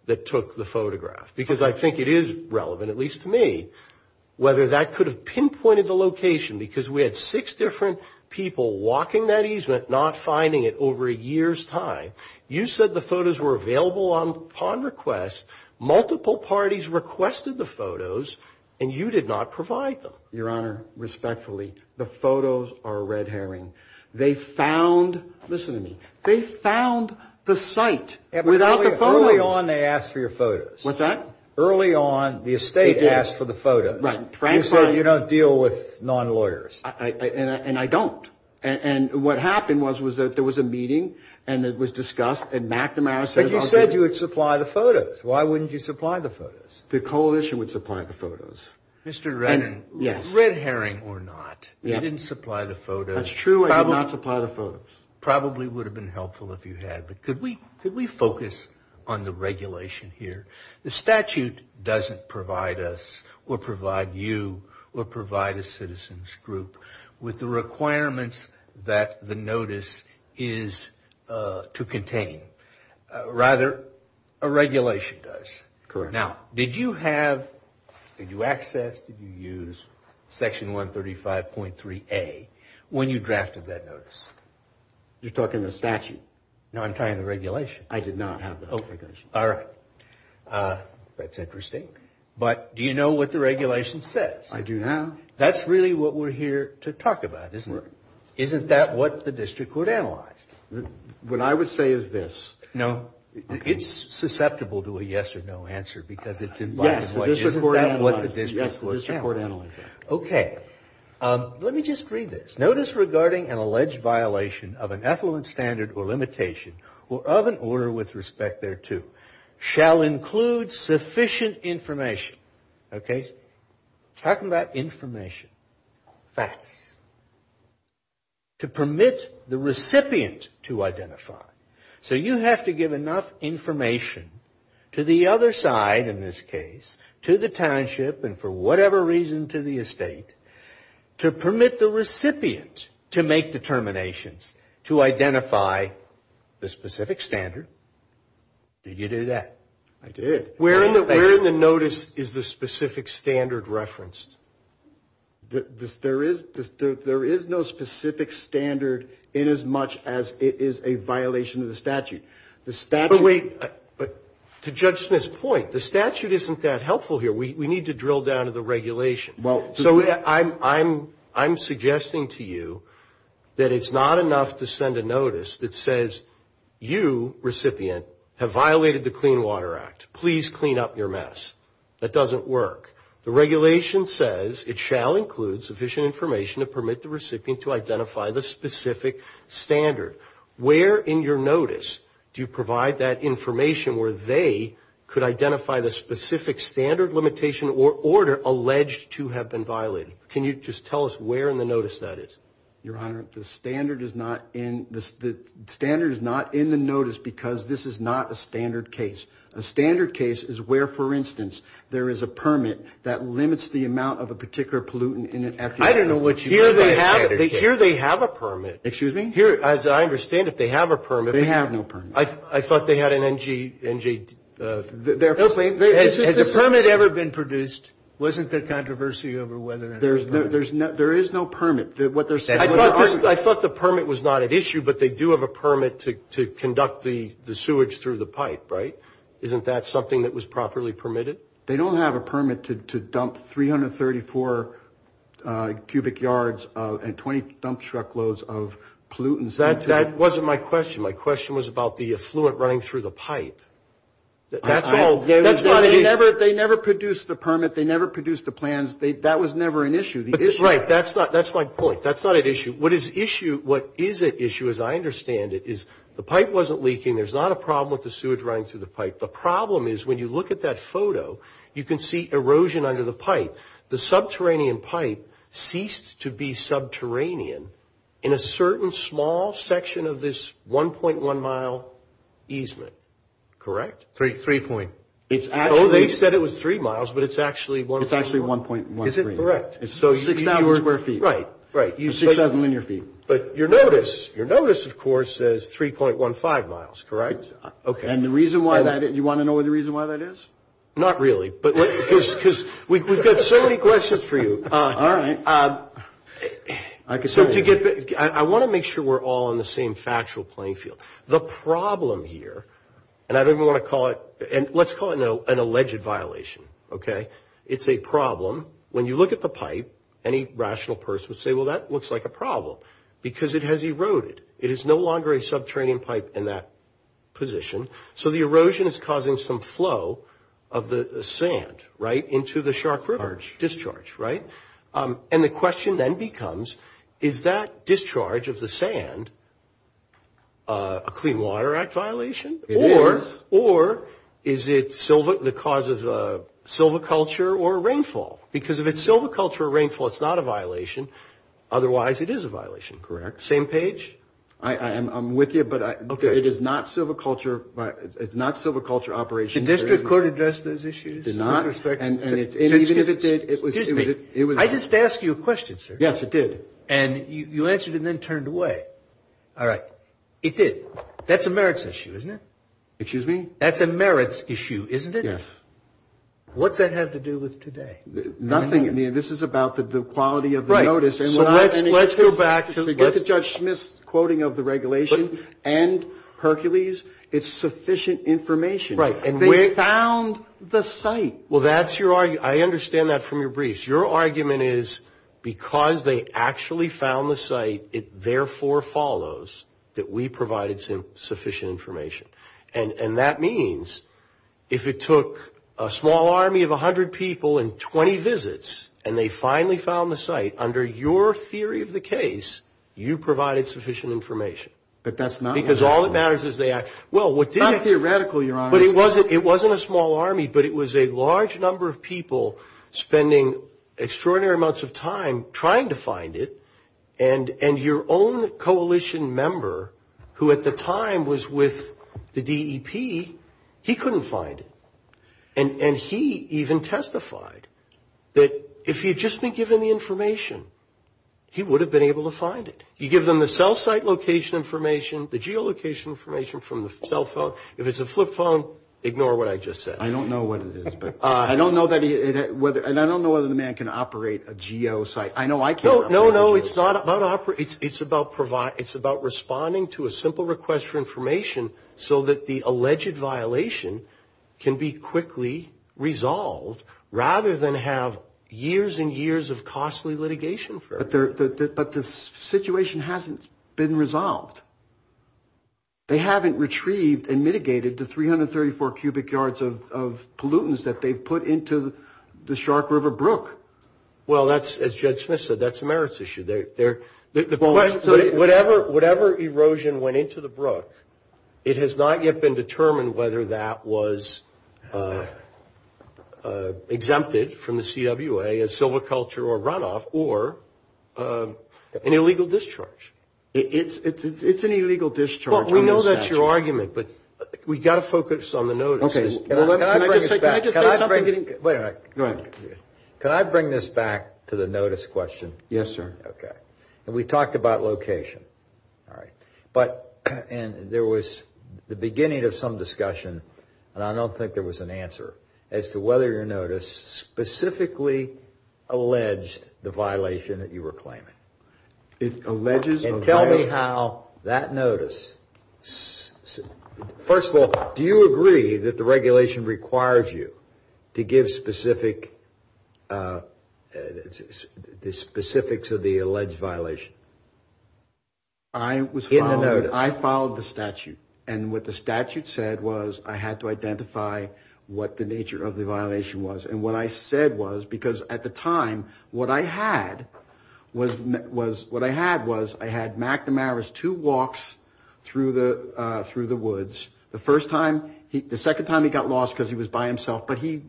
that took the photograph. Because I think it is relevant, at least to me, whether that could have pinpointed the location, because we had six different people walking that easement, not finding it over a year's time. You said the photos were available upon request. Multiple parties requested the photos, and you did not provide them. Your Honor, respectfully, the photos are a red herring. They found, listen to me, they found the site without the phone. Early on, they asked for your photos. What's that? Early on, the estate asked for the photos. Right. You said you don't deal with non-lawyers. And I don't. And what happened was there was a meeting, and it was discussed, and McNamara said. But you said you would supply the photos. Why wouldn't you supply the photos? The coalition would supply the photos. Mr. Reddin, red herring or not, you didn't supply the photos. That's true, I did not supply the photos. Probably would have been helpful if you had. But could we focus on the regulation here? The statute doesn't provide us or provide you or provide a citizen's group with the requirements that the notice is to contain. Rather, a regulation does. Now, did you have, did you access, did you use Section 135.3A when you drafted that notice? You're talking the statute. No, I'm talking the regulation. I did not have the regulation. All right. That's interesting. But do you know what the regulation says? I do now. That's really what we're here to talk about, isn't it? Isn't that what the district court analyzed? What I would say is this. No. It's susceptible to a yes or no answer. Yes, the district court analyzed it. OK. Let me just read this. Notice regarding an alleged violation of an affluent standard or limitation or of an order with respect thereto shall include sufficient information. OK. Talking about information. Facts. To permit the recipient to identify. So you have to give enough information to the other side in this case, to the township and for whatever reason to the estate, to permit the recipient to make determinations to identify the specific standard. Did you do that? I did. Where in the notice is the specific standard referenced? There is no specific standard in as much as it is a violation of the statute. But wait. To judge this point, the statute isn't that helpful here. We need to drill down to the regulation. So I'm suggesting to you that it's not enough to send a notice that says, you, recipient, have violated the Clean Water Act. Please clean up your mess. That doesn't work. The regulation says it shall include sufficient information to permit the recipient to identify the specific standard. Where in your notice do you provide that information where they could identify the specific standard limitation or order alleged to have been violated? Can you just tell us where in the notice that is? Your Honor, the standard is not in the notice because this is not a standard case. A standard case is where, for instance, there is a permit that limits the amount of a particular pollutant in an effluent. I don't know what you mean by that. Here they have a permit. Excuse me? As I understand it, they have a permit. They have no permit. I thought they had an NGD. Has a permit ever been produced? Wasn't there controversy over whether there's a permit? There is no permit. I thought the permit was not at issue, but they do have a permit to conduct the sewage through the pipe, right? Isn't that something that was properly permitted? They don't have a permit to dump 334 cubic yards and 20 dump truckloads of pollutants. That wasn't my question. My question was about the effluent running through the pipe. They never produced a permit. They never produced a plan. That was never an issue. Right. That's my point. That's not at issue. What is at issue, as I understand it, is the pipe wasn't leaking. There's not a problem with the sewage running through the pipe. The problem is when you look at that photo, you can see erosion under the pipe. The subterranean pipe ceased to be subterranean in a certain small section of this 1.1 mile easement. Correct? 3 point. They said it was 3 miles, but it's actually 1.1. Is it correct? It's 6,000 square feet. Right. Right. 6,000 square feet. But your notice, of course, says 3.15 miles. Correct? Okay. Do you want to know what the reason why that is? Not really, because we've got so many questions for you. All right. I want to make sure we're all on the same factual playing field. The problem here, and let's call it an alleged violation. It's a problem. When you look at the pipe, any rational person would say, well, that looks like a problem, because it has eroded. It is no longer a subterranean pipe in that position. So the erosion is causing some flow of the sand, right, into the Shark River. Discharge. Discharge, right? And the question then becomes, is that discharge of the sand a Clean Water Act violation? It is. Or is it the cause of a silviculture or a rainfall? Because if it's silviculture or rainfall, it's not a violation. Otherwise, it is a violation. Correct. Same page? I'm with you, but it is not silviculture. It's not silviculture operations. Did the District Court address those issues? It did not. Excuse me. I just asked you a question, sir. Yes, it did. And you answered it and then turned away. All right. It did. That's a merits issue, isn't it? Excuse me? That's a merits issue, isn't it? Yes. What does that have to do with today? Nothing. I mean, this is about the quality of the notice. Right. So let's go back to the Judge Smith's quoting of the regulation and Hercules. It's sufficient information. Right. And they found the site. Well, that's your argument. I understand that from your briefs. Your argument is, because they actually found the site, it therefore follows that we provided sufficient information. And that means, if it took a small army of 100 people and 20 visits, and they finally found the site, under your theory of the case, you provided sufficient information. But that's not theoretical. Because all that matters is the act. Not theoretical, Your Honor. But it wasn't a small army, but it was a large number of people spending extraordinary amounts of time trying to find it, and your own coalition member, who at the time was with the DEP, he couldn't find it. And he even testified that if he had just been given the information, he would have been able to find it. He gave them the cell site location information, the geolocation information from the cell phone. If it's a flip phone, ignore what I just said. I don't know what it is. And I don't know whether the man can operate a geo site. I know I can't. No, no, it's not about operating. It's about responding to a simple request for information so that the alleged violation can be quickly resolved, rather than have years and years of costly litigation for it. But the situation hasn't been resolved. They haven't retrieved and mitigated the 334 cubic yards of pollutants that they've put into the Shark River Brook. Well, as Judge Smith said, that's a merits issue. Whatever erosion went into the Brook, it has not yet been determined whether that was exempted from the CWA as silviculture or runoff, or an illegal discharge. It's an illegal discharge. Well, we know that's your argument, but we've got to focus on the notice. Can I just say something? Wait a minute. Go ahead. Can I bring this back to the notice question? Yes, sir. Okay. We talked about location. All right. And there was the beginning of some discussion, and I don't think there was an answer, as to whether your notice specifically alleged the violation that you were claiming. It alleges a violation? And tell me how that notice. First of all, do you agree that the regulation requires you to give specifics of the alleged violation? I followed the statute, and what the statute said was I had to identify what the nature of the violation was. And what I said was, because at the time, what I had was I had McNamara's two walks through the woods. The second time he got lost because he was by himself, but he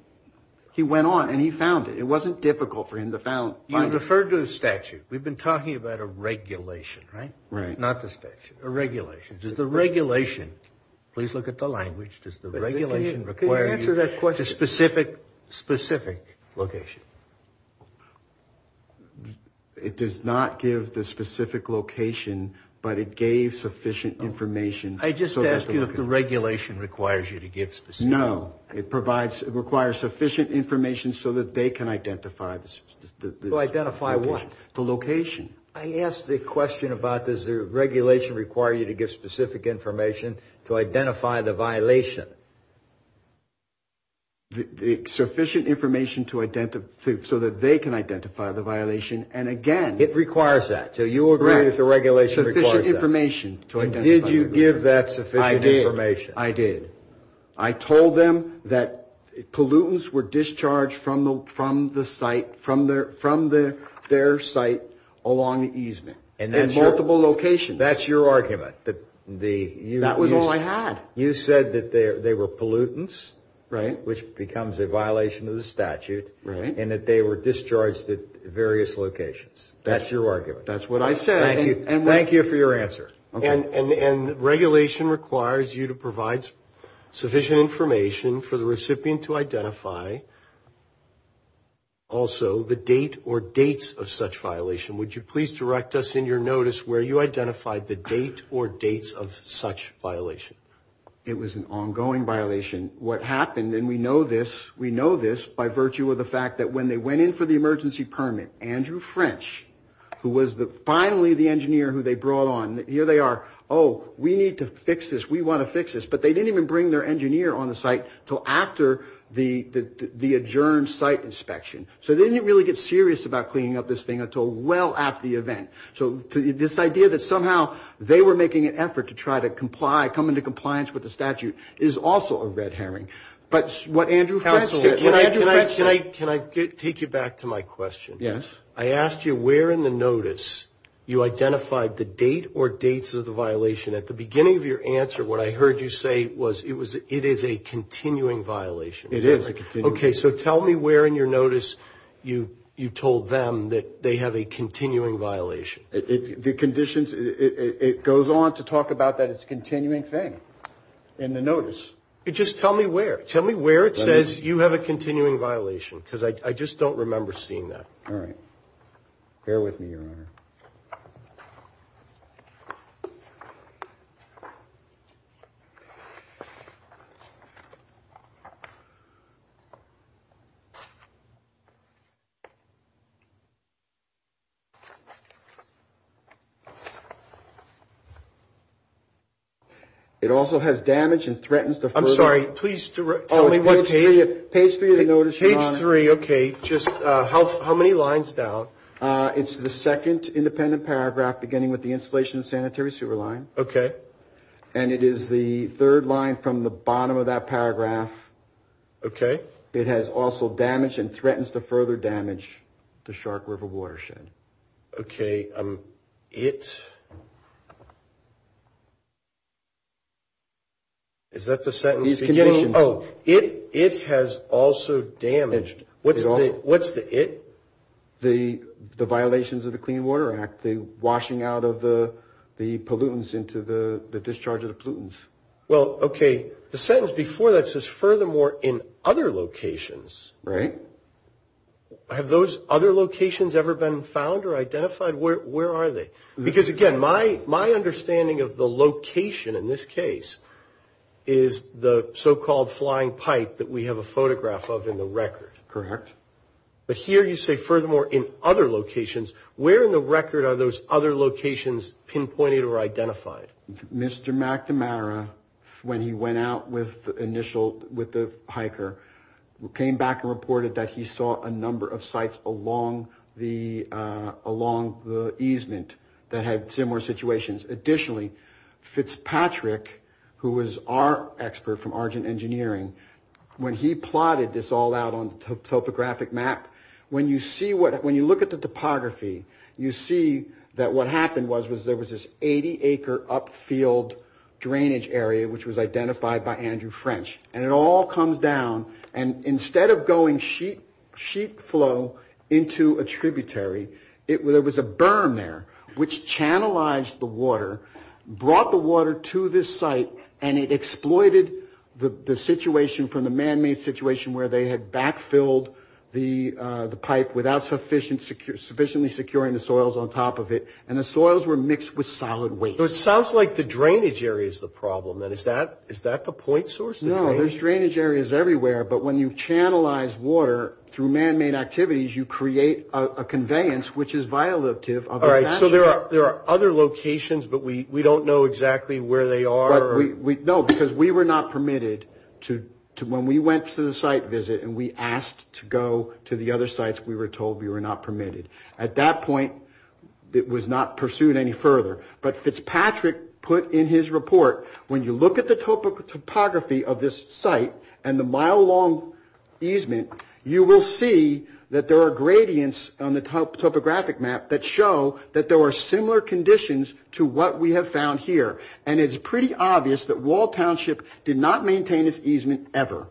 went on and he found it. It wasn't difficult for him to find it. You referred to the statute. We've been talking about a regulation, right? Right. Not the statute. A regulation. Please look at the language. Does the regulation require you to give a specific location? It does not give the specific location, but it gave sufficient information. I just asked you if the regulation requires you to give specific information. No. It requires sufficient information so that they can identify the location. Identify what? The location. I asked the question about does the regulation require you to give specific information to identify the violation. The sufficient information so that they can identify the violation, and again. It requires that. So you agree that the regulation requires that. Sufficient information. Did you give that sufficient information? I did. I told them that pollutants were discharged from their site along easement. In multiple locations. That's your argument. That was all I had. You said that they were pollutants. Right. Which becomes a violation of the statute. Right. And that they were discharged at various locations. That's your argument. That's what I said. Thank you for your answer. And regulation requires you to provide sufficient information for the recipient to identify also the date or dates of such violation. Would you please direct us in your notice where you identified the date or dates of such violation? It was an ongoing violation. What happened, and we know this by virtue of the fact that when they went in for the emergency permit, Andrew French, who was finally the engineer who they brought on, here they are. Oh, we need to fix this. We want to fix this. But they didn't even bring their engineer on the site until after the adjourned site inspection. So they didn't really get serious about cleaning up this thing until well after the event. So this idea that somehow they were making an effort to try to comply, come into compliance with the statute, is also a red herring. But what Andrew French did, can I take you back to my question? Yes. I asked you where in the notice you identified the date or dates of the violation. At the beginning of your answer, what I heard you say was it is a continuing violation. It is. Okay, so tell me where in your notice you told them that they have a continuing violation. The conditions, it goes on to talk about that it's a continuing thing in the notice. Just tell me where. Tell me where it says you have a continuing violation, because I just don't remember seeing that. All right. Bear with me here a minute. It also has damage and threatens the first. I'm sorry. Please tell me what page. Page three of the notice, Ron. Page three, okay. Just how many lines down? Page three. Page three. Okay. Page three. Page three. Page three. Page three. Page three. Okay. It is an independent paragraph beginning with the installation of sanitary sewer line. Okay. And it is the third line from the bottom of that paragraph. Okay. It has also damaged and threatens to further damage the Shark River watershed. Okay. It. Is that the sentence? These conditions. Oh, it has also damaged. What's the it? The violations of the Clean Water Act, the washing out of the pollutants into the discharge of the pollutants. Well, okay. The sentence before that says, furthermore, in other locations. Right. Have those other locations ever been found or identified? Where are they? Because, again, my understanding of the location in this case is the so-called flying pipe that we have a photograph of in the record. Correct. But here you say, furthermore, in other locations. Where in the record are those other locations pinpointed or identified? Mr. McNamara, when he went out with the initial, with the hiker, came back and reported that he saw a number of sites along the easement that had similar situations. Additionally, Fitzpatrick, who was our expert from Argent Engineering, when he plotted this all out on topographic map, when you see what, when you look at the topography, you see that what happened was there was this 80-acre upfield drainage area, which was identified by Andrew French. And it all comes down. And instead of going sheet flow into a tributary, there was a berm there, which channelized the water, brought the water to this site, and it exploited the situation from the man-made situation where they had backfilled the pipe without sufficiently securing the soils on top of it. And the soils were mixed with solid waste. So it sounds like the drainage area is the problem, then. Is that the point source? No, there's drainage areas everywhere. But when you channelize water through man-made activities, you create a conveyance, which is violative. All right, so there are other locations, but we don't know exactly where they are. No, because we were not permitted to, when we went to the site visit and we asked to go to the other sites, we were told we were not permitted. But we were not permitted. At that point, it was not pursued any further. But Fitzpatrick put in his report, when you look at the topography of this site and the mile-long easement, you will see that there are gradients on the topographic map that show that there were similar conditions to what we have found here. And it's pretty obvious that Wall Township did not maintain its easement ever.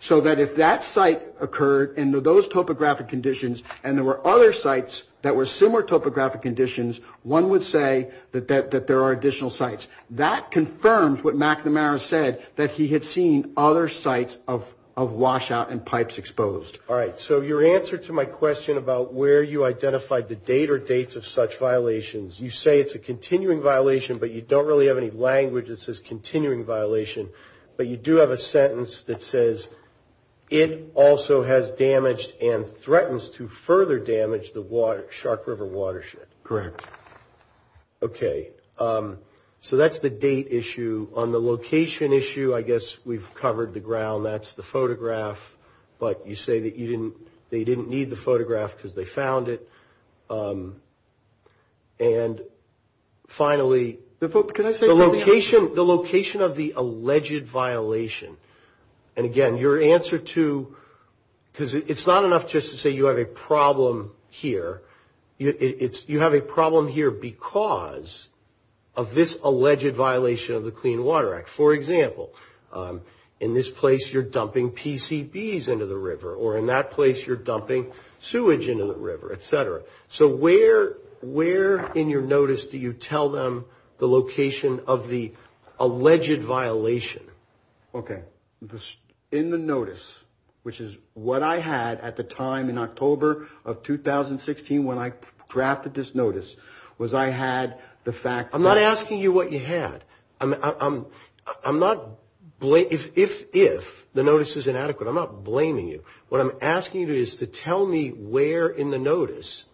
So that if that site occurred in those topographic conditions and there were other sites that were similar topographic conditions, one would say that there are additional sites. That confirms what McNamara said, that he had seen other sites of washout and pipes exposed. All right, so your answer to my question about where you identified the date or dates of such violations, you say it's a continuing violation, but you don't really have any language that says continuing violation. But you do have a sentence that says, it also has damaged and threatens to further damage the Shark River watershed. Correct. OK, so that's the date issue. On the location issue, I guess we've covered the ground. That's the photograph. But you say that they didn't need the photograph because they found it. And finally, the location of the alleged violation. And again, your answer to, because it's not enough just to say you have a problem here. You have a problem here because of this alleged violation of the Clean Water Act. For example, in this place, you're dumping PCBs into the river. Or in that place, you're dumping sewage into the river, et cetera. So where in your notice do you tell them the location of the alleged violation? OK, in the notice, which is what I had at the time in October of 2016 when I crafted this notice, was I had the fact – I'm not asking you what you had. I'm not – if the notice is inadequate, I'm not blaming you. What I'm asking you to do is to tell me where in the notice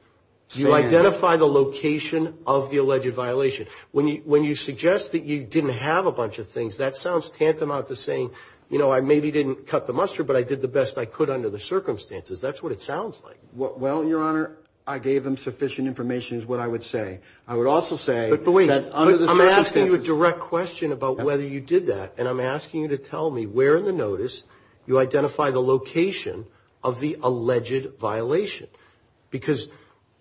you identify the location of the alleged violation. When you suggest that you didn't have a bunch of things, that sounds tantamount to saying, you know, I maybe didn't cut the mustard, but I did the best I could under the circumstances. That's what it sounds like. Well, your Honor, I gave them sufficient information is what I would say. I would also say – But wait. I'm not asking you a direct question about whether you did that. And I'm asking you to tell me where in the notice you identify the location of the alleged violation. Because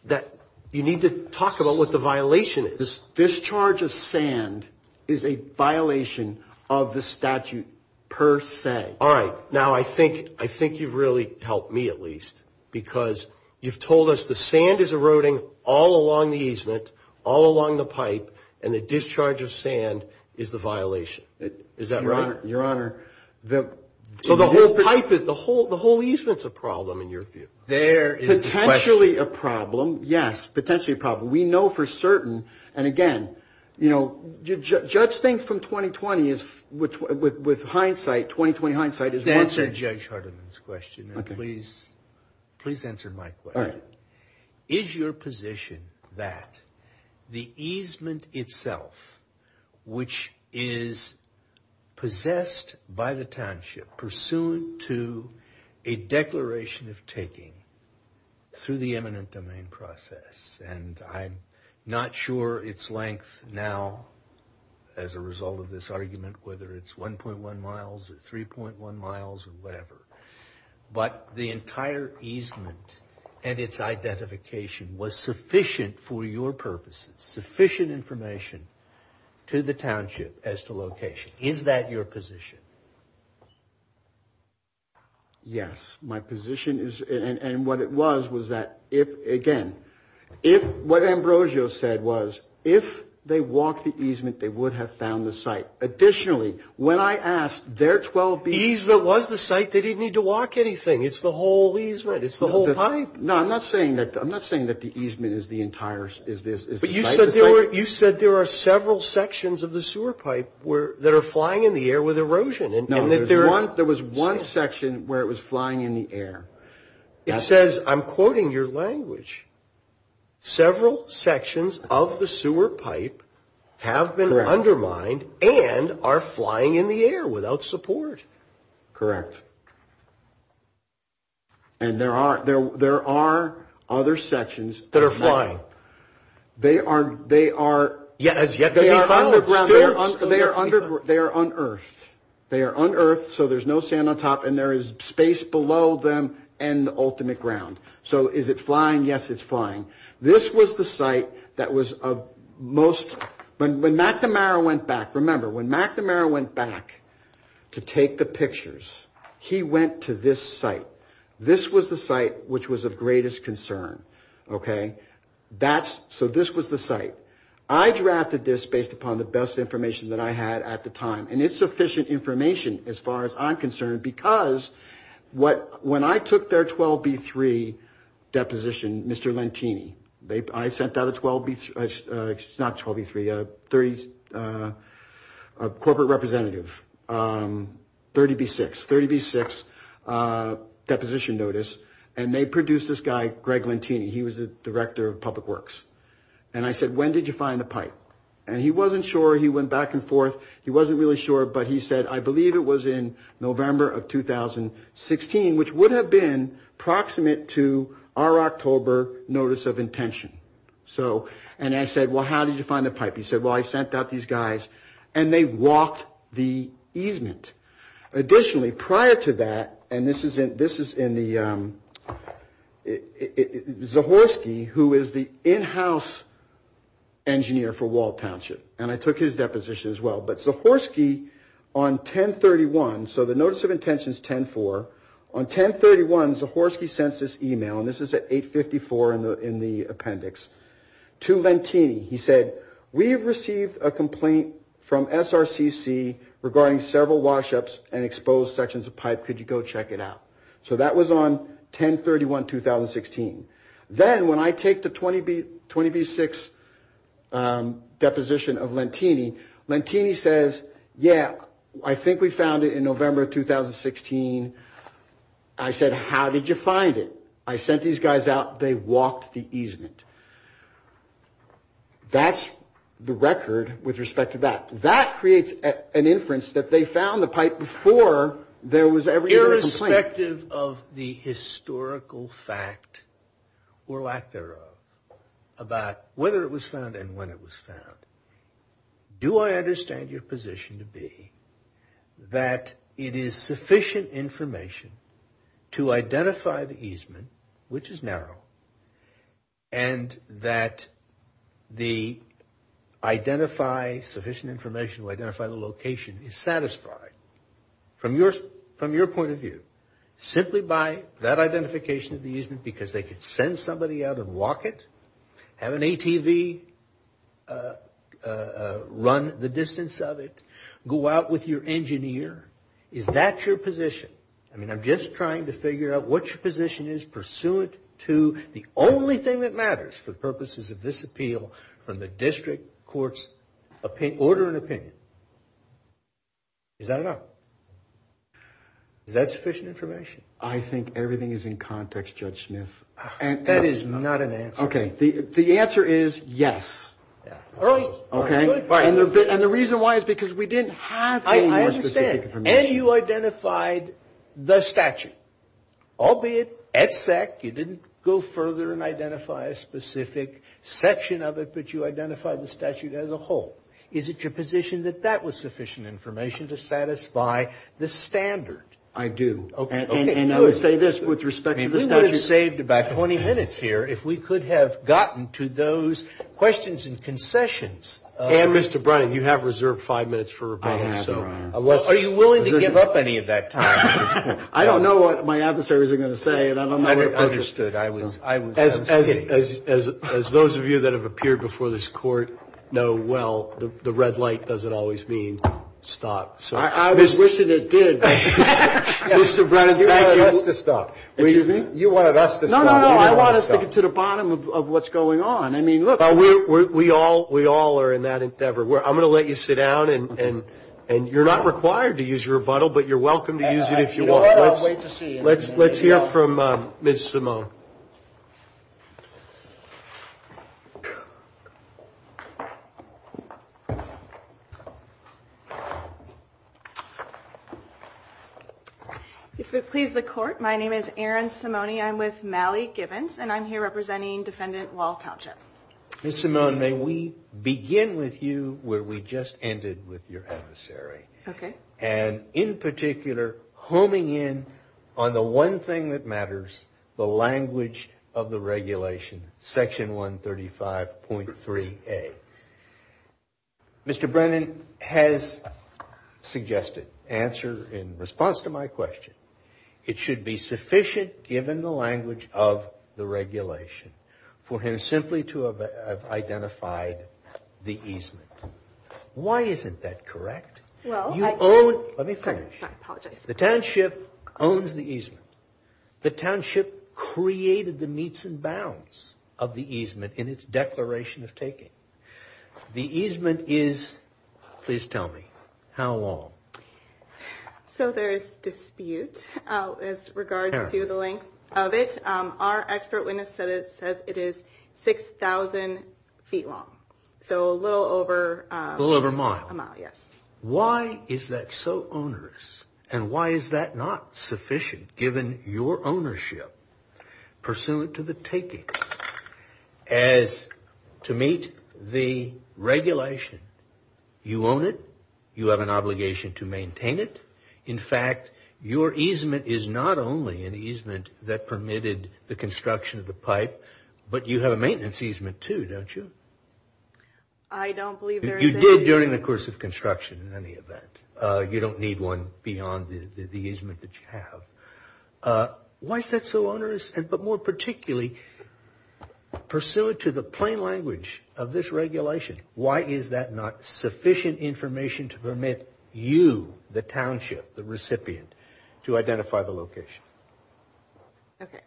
that – you need to talk about what the violation is. This discharge of sand is a violation of the statute per se. All right. Now, I think you've really helped me at least. Because you've told us the sand is eroding all along the easement, all along the pipe, and the discharge of sand is the violation. Is that right? Your Honor, the – So the whole pipe is – the whole easement is a problem in your view. There is – Potentially a problem, yes. Potentially a problem. We know for certain. And again, you know, judge thinks from 2020 is – with hindsight, 2020 hindsight is – To answer Judge Hardeman's question, and please answer my question. All right. Is your position that the easement itself, which is possessed by the township, pursuant to a declaration of taking through the eminent domain process, and I'm not sure its length now as a result of this argument, whether it's 1.1 miles or 3.1 miles or whatever, but the entire easement and its identification was sufficient for your purposes, sufficient information to the township as to location. Is that your position? Yes. My position is – and what it was was that if – again, if – what Ambrosio said was if they walked the easement, they would have found the site. Additionally, when I asked their 12 people – The easement was the site. They didn't need to walk anything. It's the whole easement. It's the whole pipe. No, I'm not saying that – I'm not saying that the easement is the entire – is this – But you said there were – you said there are several sections of the sewer pipe that are flying in the air with erosion. There was one section where it was flying in the air. It says – I'm quoting your language – several sections of the sewer pipe have been undermined and are flying in the air without support. Correct. And there are other sections – That are flying. They are – they are – They are unearthed, so there's no sand on top, and there is space below them and the ultimate ground. So is it flying? Yes, it's flying. This was the site that was of most – when McNamara went back – remember, when McNamara went back to take the pictures, he went to this site. This was the site which was of greatest concern. Okay? That's – so this was the site. I drafted this based upon the best information that I had at the time, and it's sufficient information as far as I'm concerned, because when I took their 12B3 deposition, Mr. Lentini – I sent out a 12B – not 12B3 – a 30 – a corporate representative – 30B6 – 30B6 deposition notice, and they produced this guy, Greg Lentini. He was the director of public works. And I said, when did you find the pipe? And he wasn't sure. He went back and forth. He wasn't really sure, but he said, I believe it was in November of 2016, which would have been proximate to our October notice of intention. So – and I said, well, how did you find the pipe? He said, well, I sent out these guys, and they walked the easement. Additionally, prior to that – and this is in the – Zahorsky, who is the in-house engineer for Walt Township – and I took his deposition as well – but Zahorsky, on 10-31 – so the notice of intention is 10-4 – on 10-31, Zahorsky sent this email, and this is at 8-54 in the appendix, to Lentini. He said, we have received a complaint from SRCC regarding several wash-ups and exposed sections of pipe. Could you go check it out? So that was on 10-31, 2016. Then, when I take the 20B-6 deposition of Lentini, Lentini says, yeah, I think we found it in November of 2016. I said, how did you find it? I sent these guys out. They walked the easement. That's the record with respect to that. That creates an inference that they found the pipe before there was ever a complaint. Irrespective of the historical fact, or lack thereof, about whether it was found and when it was found, do I understand your position to be that it is sufficient information to identify the easement, which is now, and that the identify sufficient information to identify the location is satisfied, from your point of view, simply by that identification of the easement, because they could send somebody out and walk it, have an ATV run the distance of it, go out with your engineer? Is that your position? I mean, I'm just trying to figure out what your position is pursuant to the only thing that matters for the purposes of this appeal from the district court's order of opinion. Is that enough? Is that sufficient information? I think everything is in context, Judge Smith. That is not an answer. Okay. The answer is yes. Oh, good. And the reason why is because we didn't have any more specific information. And you identified the statute, albeit at SEC. You didn't go further and identify a specific section of it, but you identified the statute as a whole. Is it your position that that was sufficient information to satisfy the standard? I do. Okay. And I would say this with respect to the statute. We would have saved about 20 minutes here if we could have gotten to those questions and concessions. And, Mr. Brennan, you have reserved five minutes for rebuttal. Are you willing to give up any of that time? I don't know what my adversaries are going to say. I understood. As those of you that have appeared before this court know well, the red light doesn't always mean stop. I was wishing it did. Mr. Brennan, you wanted us to stop. You wanted us to stop. No, I want us to get to the bottom of what's going on. I mean, look. We all are in that endeavor. I'm going to let you sit down, and you're not required to use your rebuttal, but you're welcome to use it if you want. I can't wait to see it. Let's hear from Ms. Simone. If it pleases the Court, my name is Erin Simone. I'm with Mally Givens, and I'm here representing Defendant Walt Townshend. Ms. Simone, may we begin with you where we just ended with your adversary. Okay. And in particular, homing in on the one thing that matters, the language of the regulation, Section 135.3a. Mr. Brennan has suggested, in response to my question, it should be sufficient, given the language of the regulation, for him simply to have identified the easement. Why isn't that correct? Let me finish. The township owns the easement. The township created the meets and bounds of the easement in its declaration of taking. The easement is, please tell me, how long? So there is dispute as regards to the length of it. Our expert witness says it is 6,000 feet long. So a little over a mile. Why is that so onerous, and why is that not sufficient, given your ownership pursuant to the takings? Well, as to meet the regulation, you own it. You have an obligation to maintain it. In fact, your easement is not only an easement that permitted the construction of the pipe, but you have a maintenance easement too, don't you? I don't believe there is any. You did during the course of construction in any event. You don't need one beyond the easement that you have. Why is that so onerous, but more particularly, pursuant to the plain language of this regulation, why is that not sufficient information to permit you, the township, the recipient, to identify the location? Okay.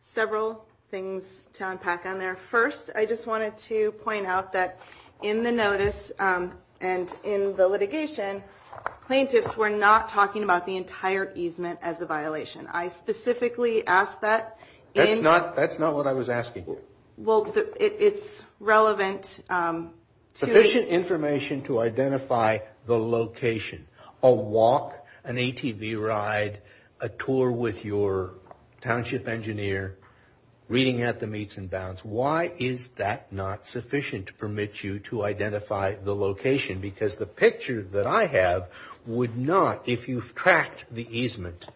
Several things to unpack on there. First, I just wanted to point out that in the notice and in the litigation, plaintiffs were not talking about the entire easement as a violation. I specifically asked that in the… That's not what I was asking. Well, it's relevant to… Sufficient information to identify the location, a walk, an ATV ride, a tour with your township engineer, reading at the meets and bounds. Why is that not sufficient to permit you to identify the location? That's a good question because the picture that I have would not, if you've tracked the easement,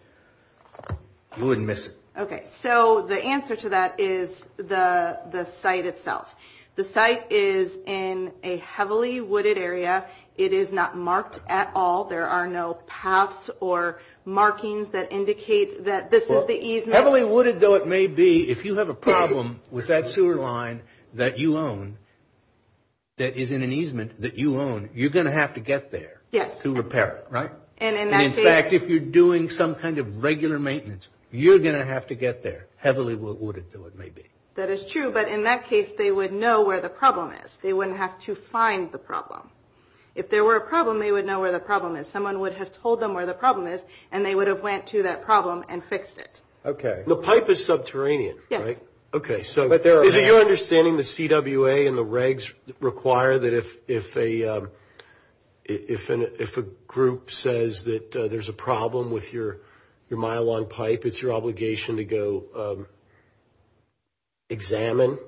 you wouldn't miss it. Okay. So the answer to that is the site itself. The site is in a heavily wooded area. It is not marked at all. There are no paths or markings that indicate that this is the easement. Heavily wooded though it may be, if you have a problem with that sewer line that you own that is in an easement that you own, you're going to have to get there to repair it, right? In fact, if you're doing some kind of regular maintenance, you're going to have to get there heavily wooded though it may be. That is true, but in that case, they would know where the problem is. They wouldn't have to find the problem. If there were a problem, they would know where the problem is. Someone would have told them where the problem is and they would have went to that problem and fixed it. Okay. The pipe is subterranean, right? Yes. Okay. Is it your understanding the CWA and the regs require that if a group says that there's a problem with your mile-long pipe, it's your obligation to go examine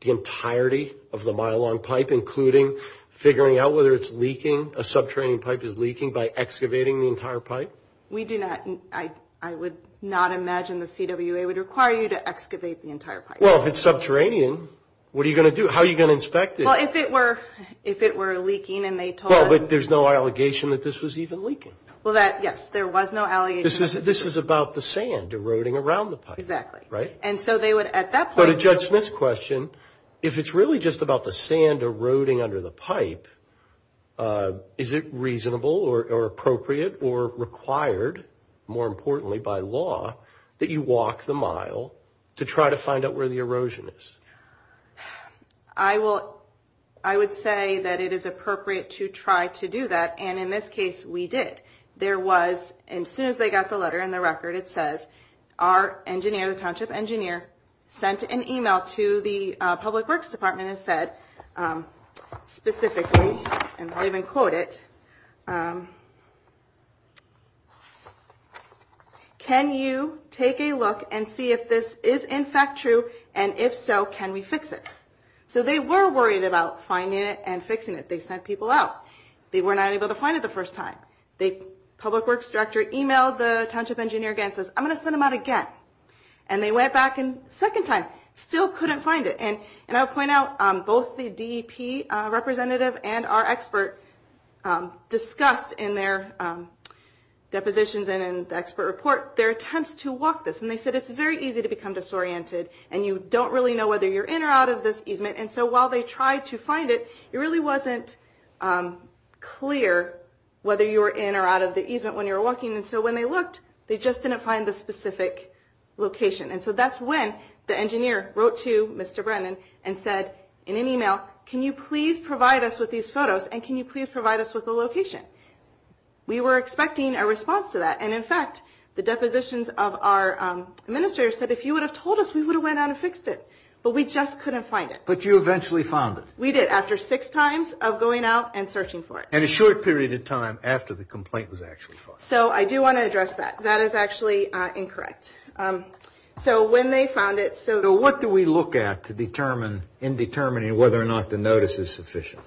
the entirety of the mile-long pipe, including figuring out whether it's leaking, a subterranean pipe is leaking by excavating the entire pipe? We do not. I would not imagine the CWA would require you to excavate the entire pipe. Well, if it's subterranean, what are you going to do? How are you going to inspect it? Well, if it were leaking and they told us. No, but there's no allegation that this was even leaking. Well, yes, there was no allegation. This is about the sand eroding around the pipe. Exactly. Right? And so they would at that point. So to Judge Smith's question, if it's really just about the sand eroding under the pipe, is it reasonable or appropriate or required, more importantly, by law that you walk the mile to try to find out where the erosion is? I would say that it is appropriate to try to do that, and in this case, we did. There was, and as soon as they got the letter and the record, it says our engineer, the township engineer, sent an e-mail to the public works department and said specifically, and I even quote it, can you take a look and see if this is in fact true, and if so, can we fix it? So they were worried about finding it and fixing it. They sent people out. They were not able to find it the first time. The public works director e-mailed the township engineer again and says, I'm going to send them out again. And they went back a second time. Still couldn't find it. And I'll point out both the DEP representative and our experts discussed in their depositions and in the expert report their attempts to walk this, and they said it's very easy to become disoriented, and you don't really know whether you're in or out of this easement, and so while they tried to find it, it really wasn't clear whether you were in or out of the easement when you were walking, and so when they looked, they just didn't find the specific location. And so that's when the engineer wrote to Mr. Brennan and said in an e-mail, can you please provide us with these photos, and can you please provide us with the location? We were expecting a response to that, and in fact the depositions of our administrator said if you would have told us, we would have went out and fixed it, but we just couldn't find it. But you eventually found it. We did after six times of going out and searching for it. And a short period of time after the complaint was actually filed. So I do want to address that. That is actually incorrect. So when they found it. So what do we look at in determining whether or not the notice is sufficient?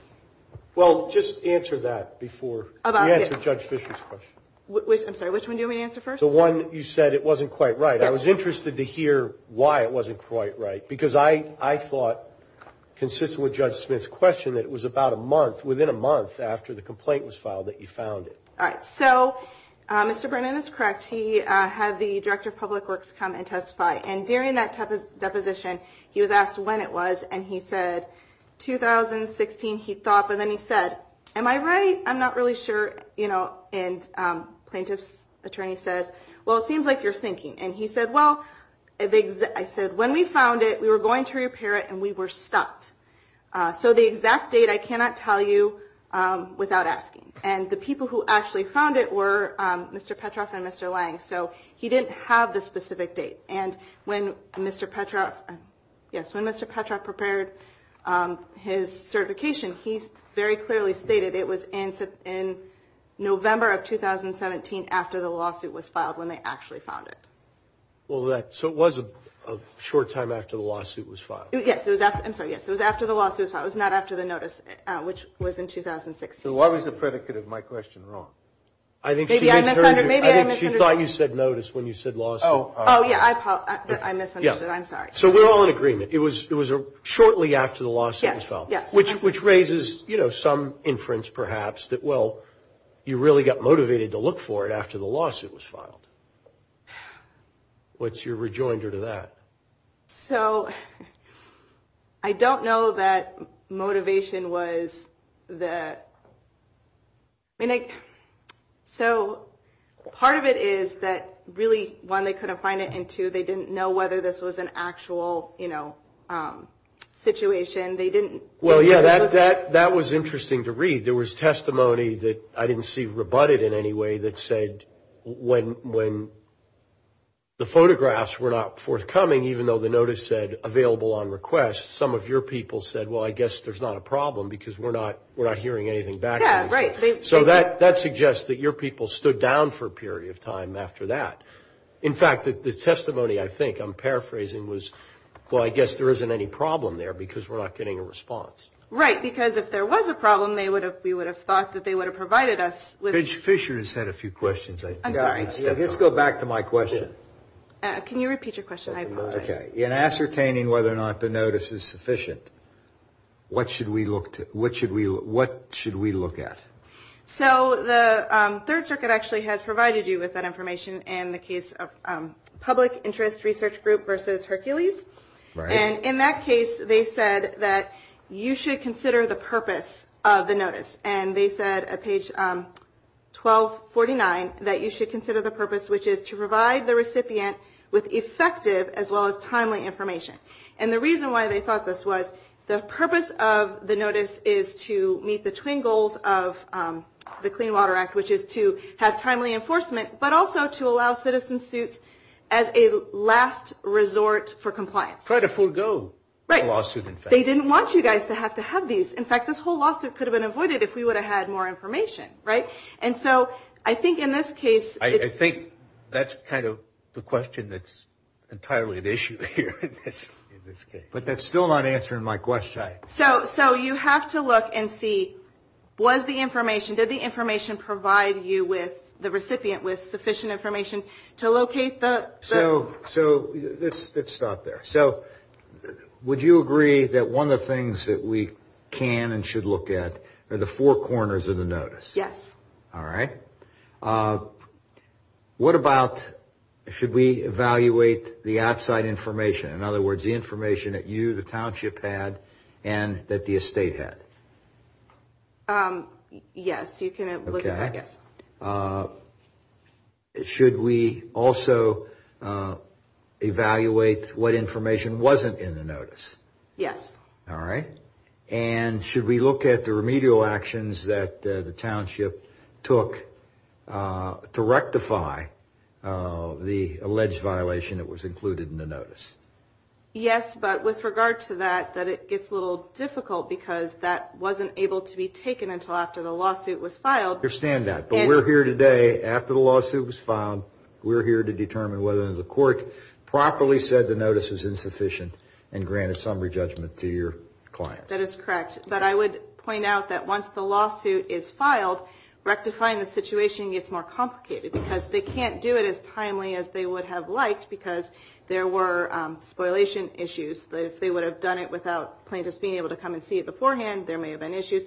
Well, just answer that before we answer Judge Fisher's question. I'm sorry, which one do you want me to answer first? The one you said it wasn't quite right. I was interested to hear why it wasn't quite right, because I thought consistent with Judge Smith's question that it was about a month, within a month after the complaint was filed that you found it. All right. So Mr. Burnett is correct. He had the Director of Public Works come and testify, and during that deposition he was asked when it was, and he said 2016. He thought, but then he said, am I right? I'm not really sure. And plaintiff's attorney said, well, it seems like you're thinking. And he said, well, I said, when we found it, we were going to repair it, and we were stopped. So the exact date I cannot tell you without asking. And the people who actually found it were Mr. Petroff and Mr. Lange. So he didn't have the specific date. And when Mr. Petroff prepared his certification, he very clearly stated it was in November of 2017 after the lawsuit was filed, when they actually found it. So it was a short time after the lawsuit was filed? Yes. I'm sorry, yes. It was after the lawsuit was filed. It was not after the notice, which was in 2016. So why was the predicate of my question wrong? I think she thought you said notice when you said lawsuit. Oh, yeah. I misunderstood. I'm sorry. So we're all in agreement. It was shortly after the lawsuit was filed, which raises some inference perhaps that, well, you really got motivated to look for it after the lawsuit was filed. What's your rejoinder to that? So I don't know that motivation was the – so part of it is that really one, they couldn't find it, and two, they didn't know whether this was an actual situation. Well, yeah, that was interesting to read. There was testimony that I didn't see rebutted in any way that said when the notice said available on request, some of your people said, well, I guess there's not a problem because we're not hearing anything back. Yeah, right. So that suggests that your people stood down for a period of time after that. In fact, the testimony I think I'm paraphrasing was, well, I guess there isn't any problem there because we're not getting a response. Right, because if there was a problem, we would have thought that they would have provided us with – Fisher has had a few questions, I think. I'm sorry. Let's go back to my question. Can you repeat your question? Okay. In ascertaining whether or not the notice is sufficient, what should we look at? So the Third Circuit actually has provided you with that information in the case of Public Interest Research Group versus Hercules. Right. And in that case, they said that you should consider the purpose of the notice, and they said at page 1249 that you should consider the purpose, which is to provide the recipient with effective as well as timely information. And the reason why they thought this was, the purpose of the notice is to meet the twin goals of the Clean Water Act, which is to have timely enforcement, but also to allow citizen suits as a last resort for compliance. Try to forego the lawsuit, in fact. Right. They didn't want you guys to have to have these. In fact, this whole lawsuit could have been avoided if we would have had more information, right? And so I think in this case – I think that's kind of the question that's entirely at issue here in this case. But that's still not answering my question. So you have to look and see, was the information – did the information provide you with – the recipient with sufficient information to locate the – So let's stop there. So would you agree that one of the things that we can and should look at are the four corners of the notice? Yes. All right. What about – should we evaluate the outside information? In other words, the information that you, the township, had and that the estate had? Yes, you can look at that. Okay. Should we also evaluate what information wasn't in the notice? Yes. All right. And should we look at the remedial actions that the township took to rectify the alleged violation that was included in the notice? Yes, but with regard to that, it's a little difficult because that wasn't able to be taken until after the lawsuit was filed. I understand that. But we're here today, after the lawsuit was filed, we're here to determine whether the court properly said the notice is insufficient and grant a summary judgment to your client. That is correct. But I would point out that once the lawsuit is filed, rectifying the situation gets more complicated because they can't do it as timely as they would have liked because there were spoliation issues. If they would have done it without plaintiffs being able to come and see it beforehand, there may have been issues.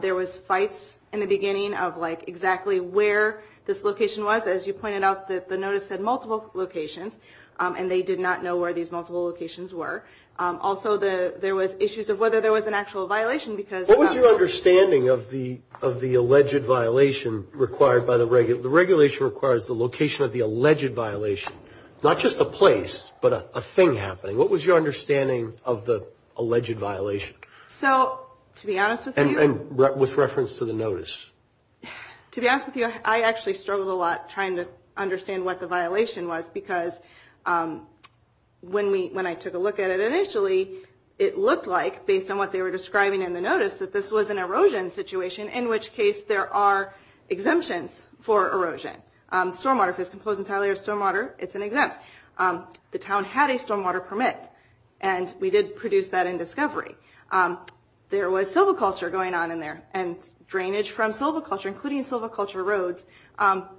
There was fights in the beginning of, like, exactly where this location was. As you pointed out, the notice had multiple locations, and they did not know where these multiple locations were. Also, there was issues of whether there was an actual violation because... What was your understanding of the alleged violation required by the regulation? The regulation requires the location of the alleged violation, not just a place but a thing happening. What was your understanding of the alleged violation? So, to be honest with you... And with reference to the notice. To be honest with you, I actually struggled a lot trying to understand what the violation was because when I took a look at it initially, it looked like, based on what they were describing in the notice, that this was an erosion situation, in which case there are exemptions for erosion. Stormwater, if it's composed entirely of stormwater, it's an exempt. The town had a stormwater permit, and we did produce that in discovery. There was silviculture going on in there, and drainage from silviculture, including silviculture roads,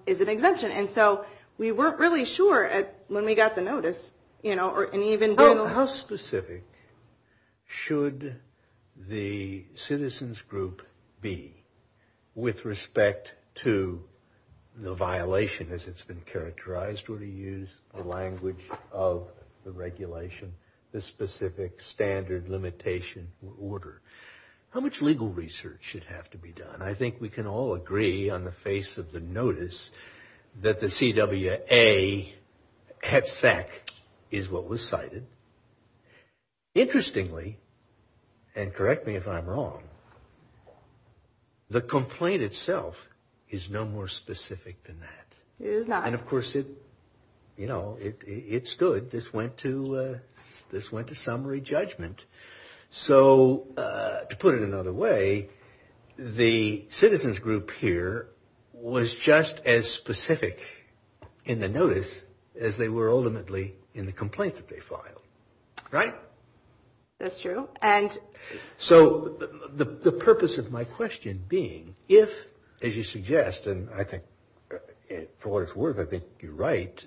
is an exemption. And so, we weren't really sure when we got the notice. How specific should the citizens group be with respect to the violation, as it's been characterized when you use the language of the regulation, the specific standard limitation or order? How much legal research should have to be done? And I think we can all agree, on the face of the notice, that the CWA head sack is what was cited. Interestingly, and correct me if I'm wrong, the complaint itself is no more specific than that. And, of course, it stood. This went to summary judgment. So, to put it another way, the citizens group here was just as specific in the notice as they were ultimately in the complaint that they filed. Right? That's true. So, the purpose of my question being, if, as you suggest, and I think, for what it's worth, I think you're right,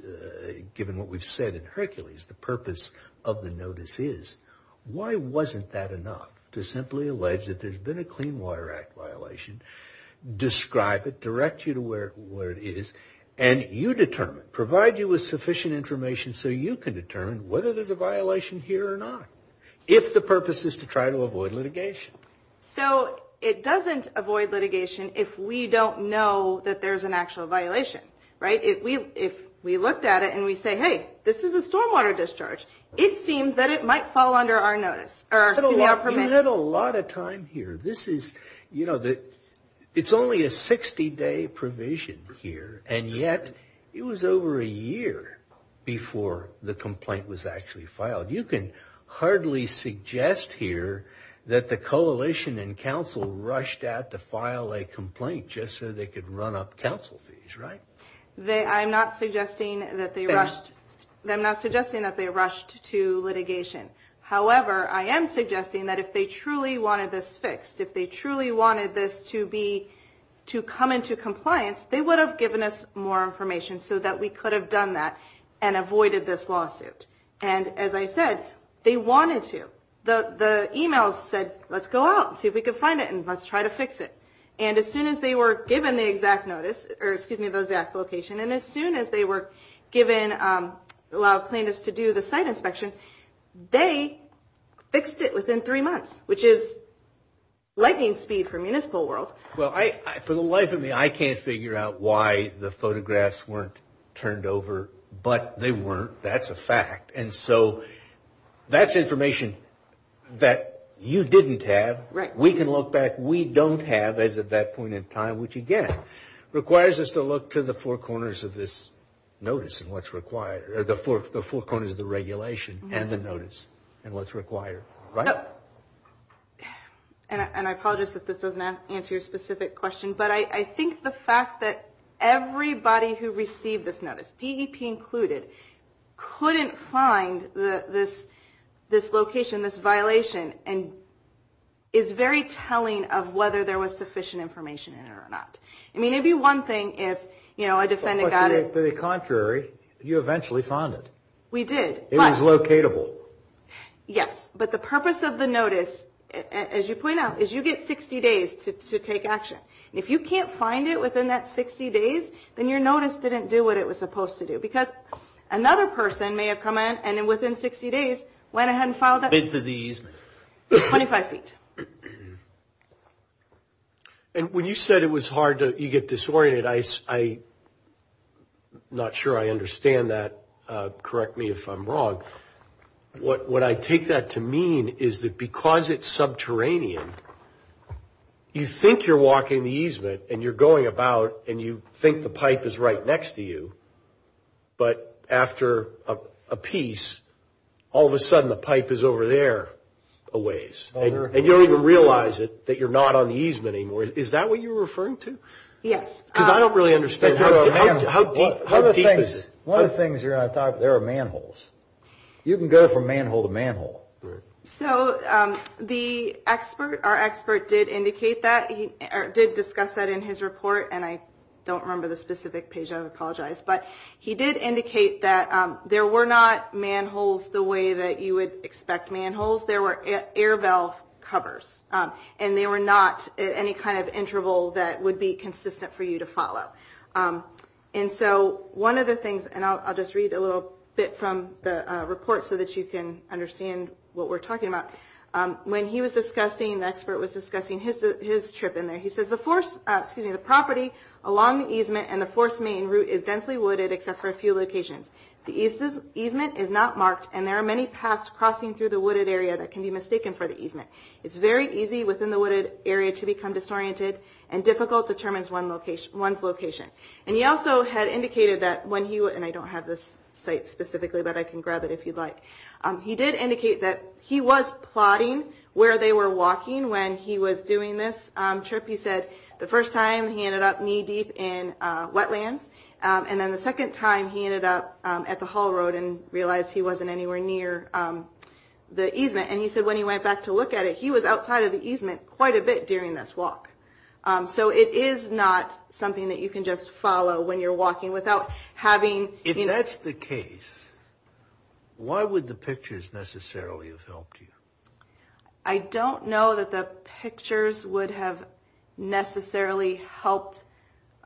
given what we've said in Hercules, the purpose of the notice is, why wasn't that enough to simply allege that there's been a Clean Water Act violation, describe it, direct you to where it is, and you determine, provide you with sufficient information so you can determine whether there's a violation here or not, if the purpose is to try to avoid litigation. So, it doesn't avoid litigation if we don't know that there's an actual violation. Right? If we looked at it and we say, hey, this is a stormwater discharge, it seems that it might fall under our notice. You had a lot of time here. This is, you know, it's only a 60-day provision here, and yet it was over a year before the complaint was actually filed. You can hardly suggest here that the coalition and council rushed out to file a complaint just so they could run up council fees. Right? I'm not suggesting that they rushed to litigation. However, I am suggesting that if they truly wanted this fixed, if they truly wanted this to come into compliance, they would have given us more information so that we could have done that and avoided this lawsuit. And as I said, they wanted to. The email said, let's go out and see if we can find it and let's try to fix it. And as soon as they were given the exact notice, or excuse me, the exact location, and as soon as they were given a lot of plaintiffs to do the site inspection, they fixed it within three months, which is lightning speed for municipal world. Well, for the life of me, I can't figure out why the photographs weren't turned over, but they weren't. That's a fact. And so that's information that you didn't have. We can look back. What we don't have at that point in time, which, again, requires us to look to the four corners of this notice and what's required, the four corners of the regulation and the notice and what's required. Right? And I apologize if this doesn't answer your specific question, but I think the fact that everybody who received this notice, DEP included, couldn't find this location, this violation, is very telling of whether there was sufficient information in it or not. I mean, it'd be one thing if a defendant got it. To the contrary, you eventually found it. We did. It was locatable. Yes. But the purpose of the notice, as you point out, is you get 60 days to take action. If you can't find it within that 60 days, then your notice didn't do what it was supposed to do because another person may have come in and, within 60 days, went ahead and filed a bid for the easement, 25 feet. And when you said it was hard to get disoriented, I'm not sure I understand that. Correct me if I'm wrong. What I take that to mean is that because it's subterranean, you think you're walking the easement and you're going about and you think the pipe is right next to you, but after a piece, all of a sudden the pipe is over there a ways. And you don't even realize it, that you're not on the easement anymore. Is that what you're referring to? Yes. Because I don't really understand how deep is it? One of the things you're going to talk, there are manholes. You can go from manhole to manhole. So the expert, our expert, did indicate that. He did discuss that in his report, and I don't remember the specific page. I apologize. But he did indicate that there were not manholes the way that you would expect manholes. There were air valve covers, and they were not at any kind of interval that would be consistent for you to follow. And so one of the things, and I'll just read a little bit from the report so that you can understand what we're talking about. When he was discussing, the expert was discussing his trip in there. He says, the force, excuse me, the property along the easement and the force main route is densely wooded except for a few locations. The easement is not marked, and there are many paths crossing through the wooded area that can be mistaken for the easement. It's very easy within the wooded area to become disoriented, and difficult determines one's location. And he also had indicated that when he, and I don't have this site specifically, but I can grab it if you'd like. He did indicate that he was plotting where they were walking when he was doing this trip. He said the first time he ended up knee deep in wetland, and then the second time he ended up at the haul road and realized he wasn't anywhere near the easement. And he said when he went back to look at it, he was outside of the easement quite a bit during this walk. So it is not something that you can just follow when you're walking without having... If that's the case, why would the pictures necessarily have helped you? I don't know that the pictures would have necessarily helped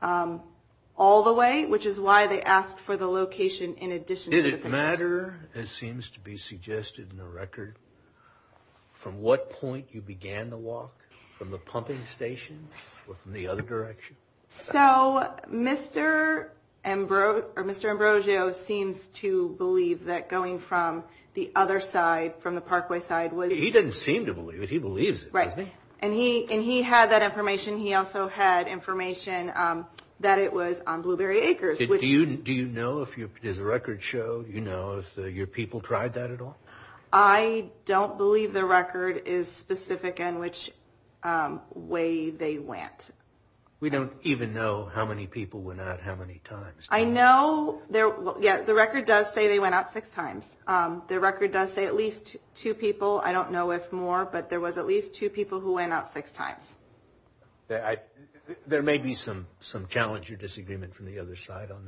all the way, which is why they asked for the location in addition to the... Did it matter, as seems to be suggested in the record, from what point you began the walk, from the pumping station or from the other direction? So Mr. Ambrosio seems to believe that going from the other side, from the parkway side... He doesn't seem to believe it. He believes it. Right. And he had that information. He also had information that it was on Blueberry Acres. Do you know if his record shows, you know, if your people tried that at all? I don't believe the record is specific in which way they went. We don't even know how many people went out how many times. I know... Yeah, the record does say they went out six times. The record does say at least two people. I don't know if more, but there was at least two people who went out six times. There may be some challenge or disagreement from the other side on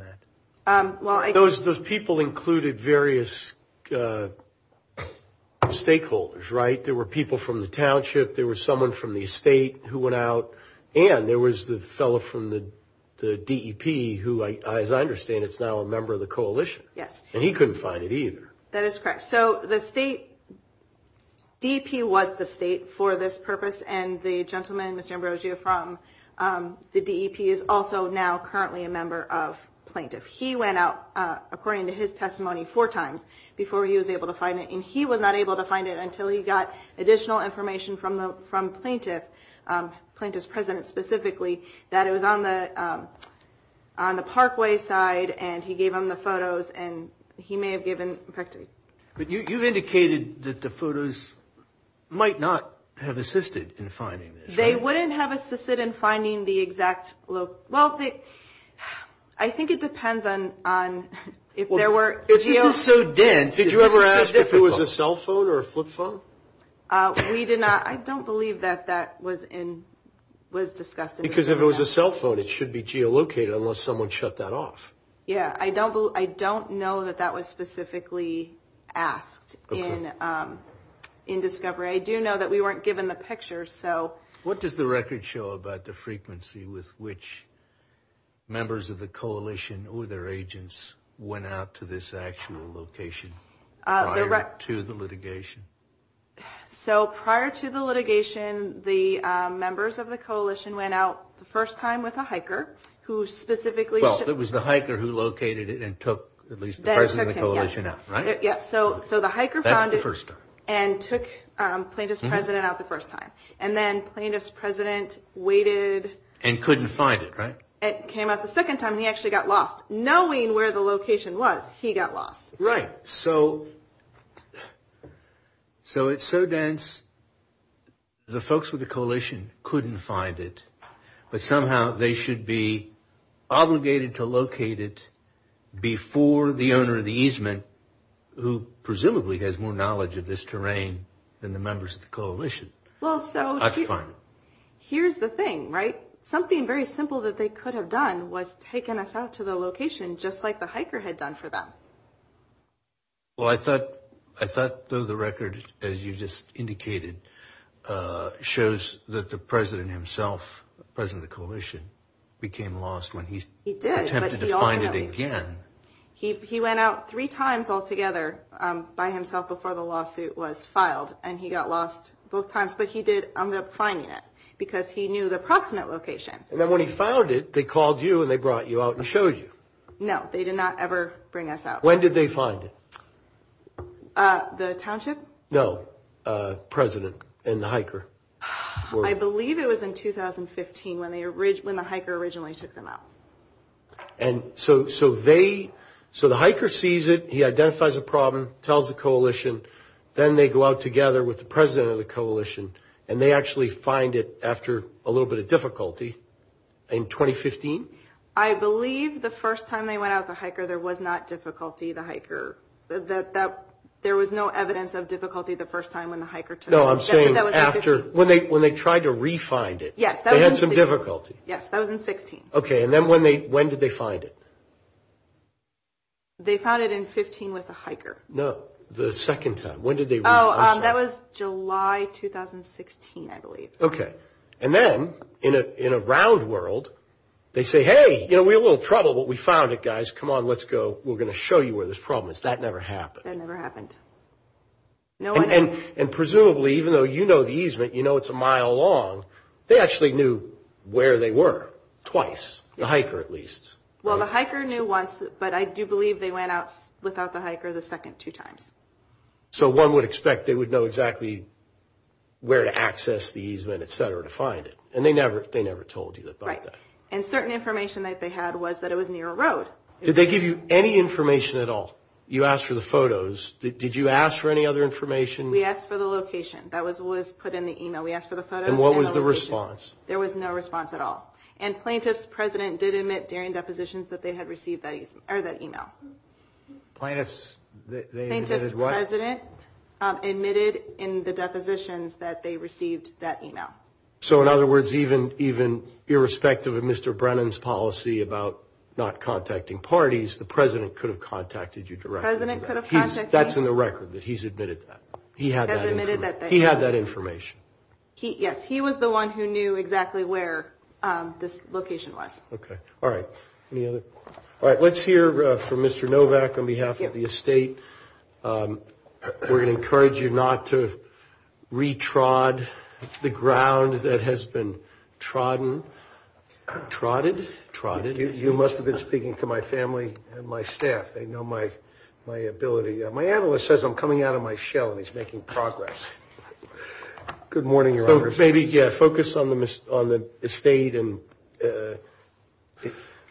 that. Those people included various stakeholders, right? There were people from the township, there was someone from the estate who went out, and there was the fellow from the DEP who, as I understand, is now a member of the coalition. Yes. And he couldn't find it either. That is correct. So the state... DEP was the state for this purpose, and the gentleman, Mr. Ambrosio, from the DEP, is also now currently a member of plaintiff. He went out, according to his testimony, four times before he was able to find it, and he was not able to find it until he got additional information from plaintiff, plaintiff's president specifically, that it was on the parkway side, and he gave them the photos, and he may have given... But you've indicated that the photos might not have assisted in finding it. They wouldn't have assisted in finding the exact... Well, I think it depends on if there were... If this is so dense... Did you ever ask if it was a cell phone or a flip phone? We did not. I don't believe that that was discussed. Because if it was a cell phone, it should be geolocated unless someone shut that off. Yes. I don't know that that was specifically asked in discovery. I do know that we weren't given the pictures, so... What does the record show about the frequency with which members of the coalition or their agents went out to this actual location prior to the litigation? So prior to the litigation, the members of the coalition went out the first time with a hiker who specifically... Well, it was the hiker who located it and took at least the president of the coalition out, right? Yes. So the hiker found it and took plaintiff's president out the first time, and then plaintiff's president waited... And couldn't find it, right? And came out the second time, he actually got lost. Knowing where the location was, he got lost. Right. So it's so dense, the folks with the coalition couldn't find it, but somehow they should be obligated to locate it before the owner of the easement, who presumably has more knowledge of this terrain than the members of the coalition. Well, so... That's fine. Here's the thing, right? Something very simple that they could have done was taken us out to the location just like the hiker had done for them. Well, I thought though the record, as you just indicated, shows that the president himself, the president of the coalition, became lost when he attempted to find it again. He went out three times altogether by himself before the lawsuit was filed, and he got lost both times, but he did end up finding it because he knew the approximate location. And then when he found it, they called you and they brought you out and showed you. No, they did not ever bring us out. When did they find it? The township? No, the president and the hiker. I believe it was in 2015 when the hiker originally took them out. And so they... So the hiker sees it, he identifies the problem, tells the coalition, then they go out together with the president of the coalition and they actually find it after a little bit of difficulty in 2015? I believe the first time they went out with the hiker, there was not difficulty, the hiker. There was no evidence of difficulty the first time when the hiker turned up. No, I'm saying after, when they tried to re-find it, they had some difficulty. Yes, that was in 2016. Okay, and then when did they find it? They found it in 2015 with the hiker. No, the second time. Oh, that was July 2016, I believe. Okay, and then in a round world, they say, hey, we had a little trouble, but we found it, guys. Come on, let's go, we're going to show you where this problem is. That never happened. That never happened. And presumably, even though you know the easement, you know it's a mile long, they actually knew where they were, twice, the hiker at least. Well, the hiker knew once, but I do believe they went out without the hiker the second two times. So one would expect they would know exactly where to access the easement, et cetera, to find it. And they never told you about that. And certain information that they had was that it was near a road. Did they give you any information at all? You asked for the photos. Did you ask for any other information? We asked for the location. That was put in the email. We asked for the photos. And what was the response? There was no response at all. And plaintiff's president did admit during depositions that they had received that email. Plaintiff's, they admitted as what? Plaintiff's president admitted in the depositions that they received that email. So in other words, even irrespective of Mr. Brennan's policy about not contacting parties, the president could have contacted you directly. The president could have contacted me. That's in the record that he's admitted that. He had that information. He had that information. Yes. He was the one who knew exactly where this location was. OK. All right. Any other? All right. Let's hear from Mr. Novak on behalf of the estate. We're going to encourage you not to retrod the ground that has been trodden. Trotted? Trotted. You must have been speaking to my family and my staff. They know my ability. My analyst says I'm coming out of my shell and he's making progress. Good morning, Your Honor. So maybe, yeah, focus on the estate and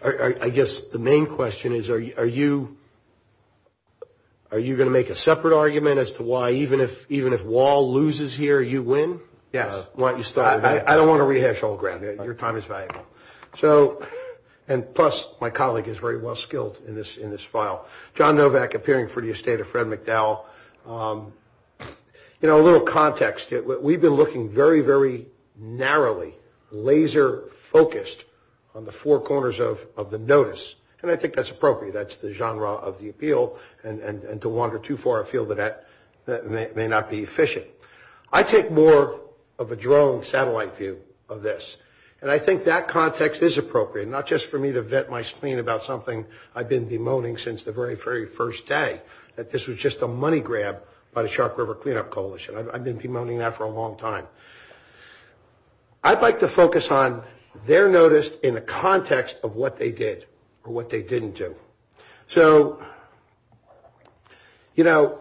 I guess the main question is, are you going to make a separate argument as to why even if Wahl loses here, you win? Yes. Why don't you start? I don't want to rehash old ground. Your time is valuable. So, and plus, my colleague is very well skilled in this file. John Novak appearing for the estate of Fred McDowell. You know, a little context. We've been looking very, very narrowly, laser focused on the four corners of the notice, and I think that's appropriate. That's the genre of the appeal, and to wander too far, I feel that may not be efficient. I take more of a drone, satellite view of this, and I think that context is appropriate, not just for me to vet my spleen about something I've been bemoaning since the very, very first day, that this was just a money grab by the Shark River Cleanup Coalition. I've been bemoaning that for a long time. I'd like to focus on their notice in the context of what they did or what they didn't do. So, you know,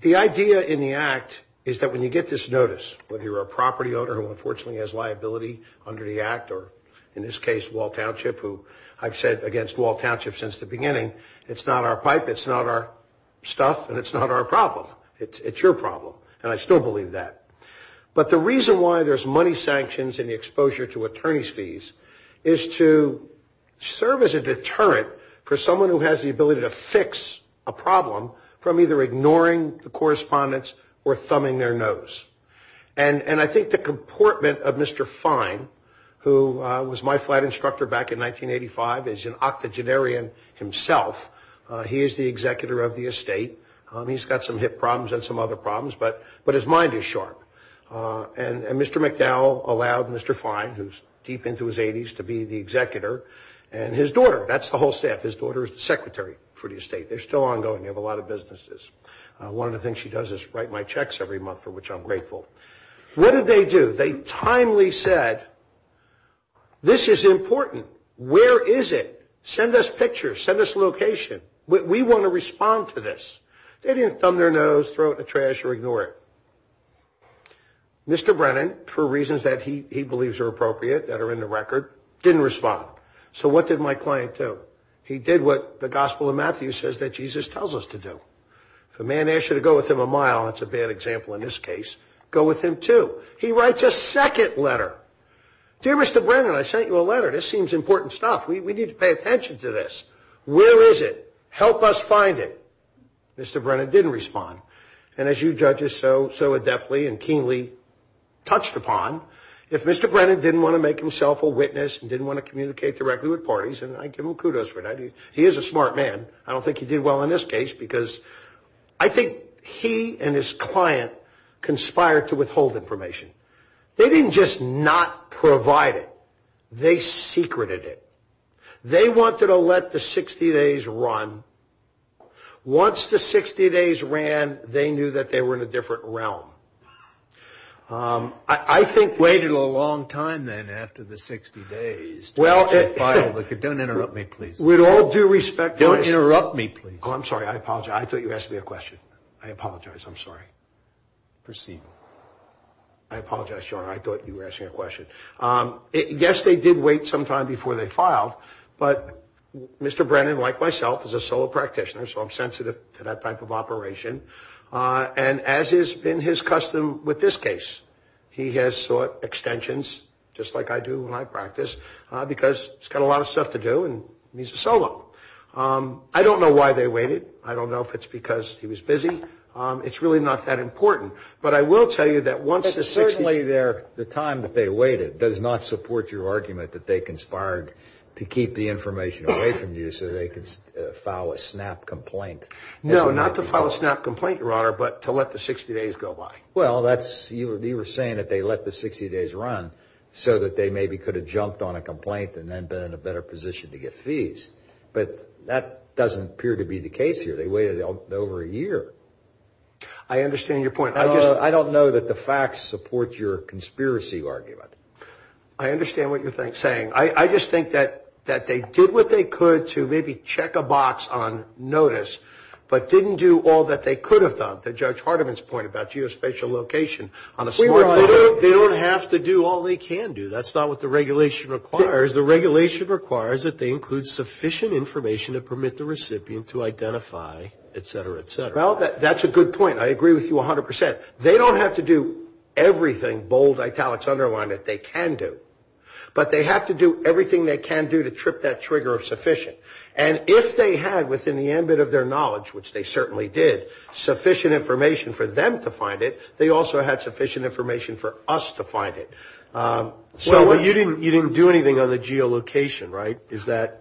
the idea in the act is that when you get this notice, whether you're a property owner who unfortunately has liability under the act or in this case, Wall Township, who I've said against Wall Township since the beginning, it's not our pipe, it's not our stuff, and it's not our problem. It's your problem, and I still believe that. But the reason why there's money sanctions and the exposure to attorney's fees is to serve as a deterrent for someone who has the ability to fix a problem from either ignoring the correspondence or thumbing their nose. And I think the comportment of Mr. Fine, who was my flight instructor back in 1985, is an octogenarian himself. He is the executor of the estate. He's got some hip problems and some other problems, but his mind is sharp. And Mr. McDowell allowed Mr. Fine, who's deep into his 80s, to be the executor, and his daughter, that's the whole staff. His daughter is the secretary for the estate. They're still ongoing. They have a lot of businesses. One of the things she does is write my checks every month, for which I'm grateful. What did they do? They timely said, this is important. Where is it? Send us pictures. Send us a location. We want to respond to this. They didn't thumb their nose, throw it in the trash, or ignore it. Mr. Brennan, for reasons that he believes are appropriate, that are in the record, didn't respond. So what did my client do? He did what the Gospel of Matthew says that Jesus tells us to do. If a man asks you to go with him a mile, that's a bad example in this case, go with him two. He writes a second letter. Dear Mr. Brennan, I sent you a letter. This seems important stuff. We need to pay attention to this. Where is it? Help us find it. Mr. Brennan didn't respond. And as you judges so adeptly and keenly touched upon, if Mr. Brennan didn't want to make himself a witness and didn't want to communicate directly with parties, and I give him kudos for that. He is a smart man. I don't think he did well in this case because I think he and his client conspired to withhold information. They didn't just not provide it. They secreted it. They wanted to let the 60 days run. Once the 60 days ran, they knew that they were in a different realm. I think they waited a long time then after the 60 days. Don't interrupt me, please. With all due respect. Don't interrupt me, please. I'm sorry. I apologize. I thought you asked me a question. I apologize. I'm sorry. Proceed. I apologize, John. I thought you were asking a question. Yes, they did wait some time before they filed, but Mr. Brennan, like myself, is a solo practitioner, so I'm sensitive to that type of operation. And as is in his custom with this case, he has sought extensions, just like I do when I practice, because he's got a lot of stuff to do and he's a solo. I don't know why they waited. I don't know if it's because he was busy. It's really not that important. But I will tell you that once the 60 days… But certainly the time that they waited does not support your argument that they conspired to keep the information away from you so they could file a snap complaint. No, not to file a snap complaint, Your Honor, but to let the 60 days go by. Well, you were saying that they let the 60 days run so that they maybe could have jumped on a complaint and then been in a better position to get fees. But that doesn't appear to be the case here. They waited over a year. I understand your point. I don't know that the facts support your conspiracy argument. I understand what you're saying. I just think that they did what they could to maybe check a box on notice but didn't do all that they could have done. The Judge Hardiman's point about geospatial location on a small island. They don't have to do all they can do. That's not what the regulation requires. The regulation requires that they include sufficient information to permit the recipient to identify, etc., etc. Well, that's a good point. I agree with you 100%. They don't have to do everything, bold italics underlined, that they can do. But they have to do everything they can do to trip that trigger of sufficient. And if they had within the ambit of their knowledge, which they certainly did, sufficient information for them to find it, they also had sufficient information for us to find it. So you didn't do anything on the geolocation, right? Is that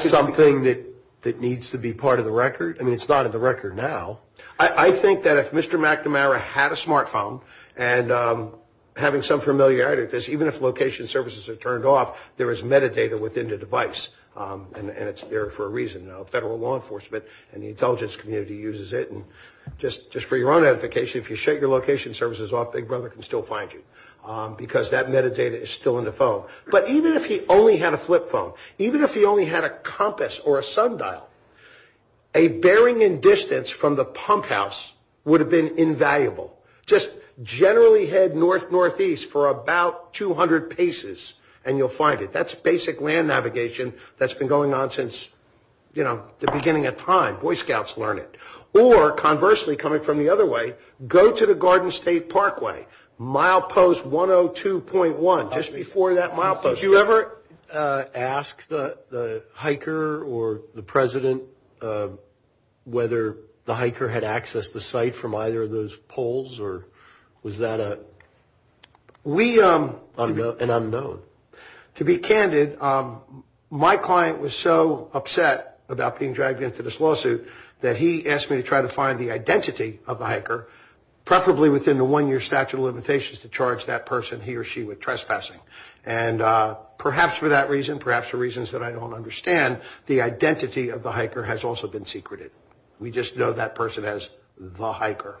something that needs to be part of the record? I mean, it's not in the record now. I think that if Mr. McNamara had a smartphone, and having some familiarity with this, even if location services are turned off, there is metadata within the device. And it's there for a reason. Federal law enforcement and the intelligence community uses it. And just for your own edification, if you shake your location services off, Big Brother can still find you because that metadata is still in the phone. But even if he only had a flip phone, even if he only had a compass or a sundial, a bearing in distance from the pump house would have been invaluable. Just generally head north-northeast for about 200 paces and you'll find it. That's basic land navigation that's been going on since, you know, the beginning of time. Boy Scouts learn it. Or conversely, coming from the other way, go to the Garden State Parkway. Milepost 102.1, just before that milepost. Have you ever asked the hiker or the president whether the hiker had access to the site from either of those poles? Or was that an unknown? To be candid, my client was so upset about being dragged into this lawsuit that he asked me to try to find the identity of the hiker, preferably within the one-year statute of limitations to charge that person he or she with trespassing. And perhaps for that reason, perhaps for reasons that I don't understand, the identity of the hiker has also been secreted. We just know that person as the hiker.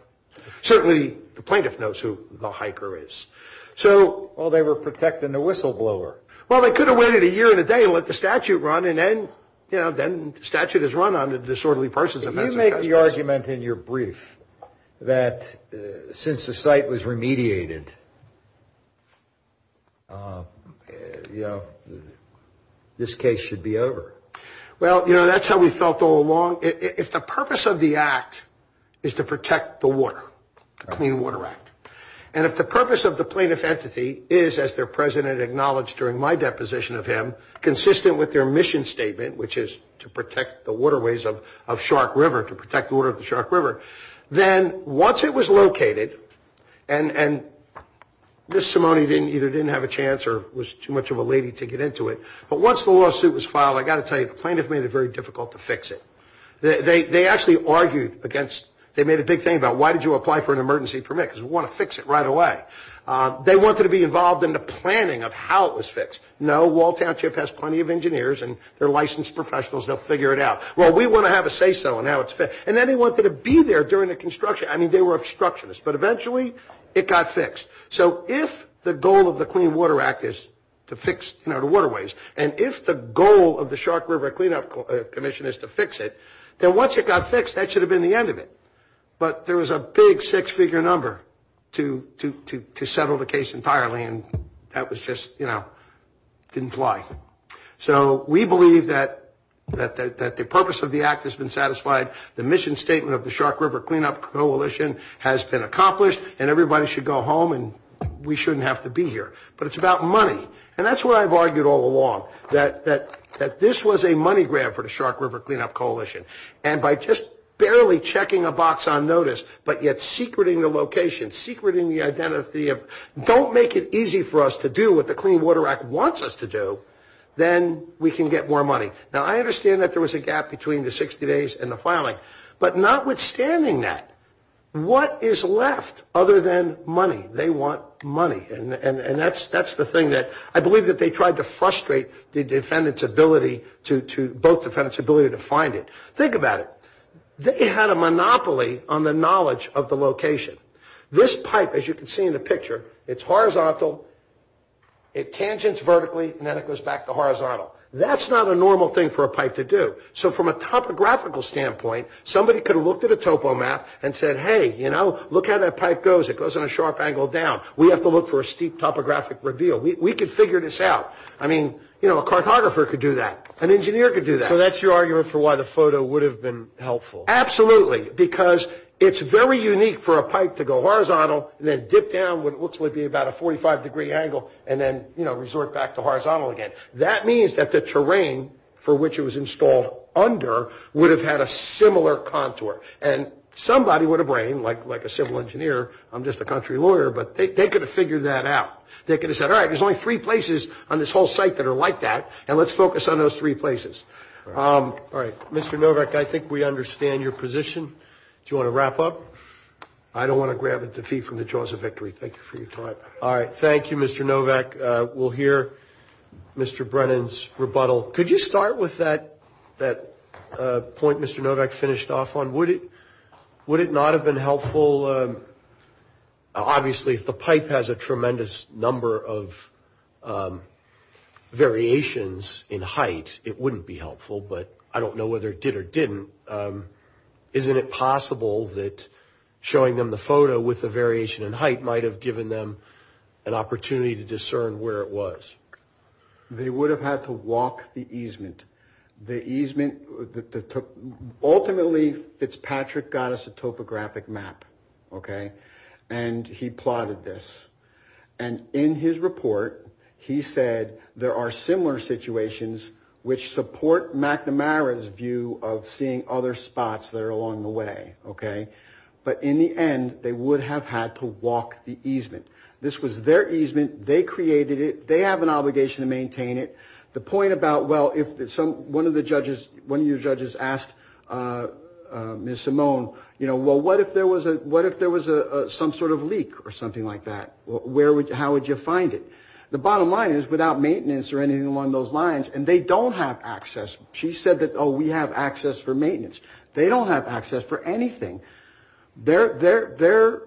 Certainly the plaintiff knows who the hiker is. So... Well, they were protecting the whistleblower. Well, they could have waited a year and a day and let the statute run, and then, you know, then the statute is run on disorderly persons. You make the argument in your brief that since the site was remediated, you know, this case should be over. Well, you know, that's how we felt all along. If the purpose of the act is to protect the water, the Clean Water Act, and if the purpose of the plaintiff entity is, as their president acknowledged during my deposition of him, consistent with their mission statement, which is to protect the waterways of Shark River, to protect the water of the Shark River, then once it was located, and Ms. Simone either didn't have a chance or was too much of a lady to get into it, but once the lawsuit was filed, I've got to tell you, the plaintiff made it very difficult to fix it. They actually argued against... They made a big thing about why did you apply for an emergency permit, because we want to fix it right away. They wanted to be involved in the planning of how it was fixed. No, Walt Township has plenty of engineers and they're licensed professionals. They'll figure it out. Well, we want to have a say-so on how it's fixed. And then they wanted to be there during the construction. I mean, they were obstructionists, but eventually it got fixed. So if the goal of the Clean Water Act is to fix, you know, the waterways, and if the goal of the Shark River Cleanup Commission is to fix it, then once it got fixed, that should have been the end of it. But there was a big six-figure number to settle the case entirely, and that was just, you know, didn't fly. So we believe that the purpose of the act has been satisfied, the mission statement of the Shark River Cleanup Coalition has been accomplished, and everybody should go home and we shouldn't have to be here. But it's about money, and that's what I've argued all along, that this was a money grab for the Shark River Cleanup Coalition. And by just barely checking a box on notice, but yet secreting the location, secreting the identity, don't make it easy for us to do what the Clean Water Act wants us to do, then we can get more money. Now, I understand that there was a gap between the 60 days and the filing, but notwithstanding that, what is left other than money? They want money, and that's the thing that I believe that they tried to frustrate the defendant's ability to find it. Think about it. They had a monopoly on the knowledge of the location. This pipe, as you can see in the picture, it's horizontal, it tangents vertically, and then it goes back to horizontal. That's not a normal thing for a pipe to do. So from a topographical standpoint, somebody could have looked at a topo map and said, hey, you know, look how that pipe goes. It goes at a sharp angle down. We have to look for a steep topographic reveal. We could figure this out. I mean, you know, a cartographer could do that. An engineer could do that. So that's your argument for why the photo would have been helpful? Absolutely, because it's very unique for a pipe to go horizontal and then dip down what looks to be about a 45-degree angle and then, you know, resort back to horizontal again. That means that the terrain for which it was installed under would have had a similar contour, and somebody with a brain, like a civil engineer, I'm just a country lawyer, but they could have figured that out. They could have said, all right, there's only three places on this whole site that are like that, and let's focus on those three places. All right. Mr. Novak, I think we understand your position. Do you want to wrap up? I don't want to grab it to feed from the jaws of victory. Thank you for your time. All right. Thank you, Mr. Novak. We'll hear Mr. Brennan's rebuttal. Could you start with that point Mr. Novak finished off on? Would it not have been helpful? Well, obviously, if the pipe has a tremendous number of variations in height, it wouldn't be helpful, but I don't know whether it did or didn't. Isn't it possible that showing them the photo with the variation in height might have given them an opportunity to discern where it was? They would have had to walk the easement. Ultimately, Fitzpatrick got us a topographic map, and he plotted this. And in his report, he said there are similar situations which support McNamara's view of seeing other spots that are along the way. But in the end, they would have had to walk the easement. This was their easement. They created it. They have an obligation to maintain it. The point about, well, one of your judges asked Ms. Simone, well, what if there was some sort of leak or something like that? How would you find it? The bottom line is without maintenance or anything along those lines, and they don't have access. She said that, oh, we have access for maintenance. They don't have access for anything. Their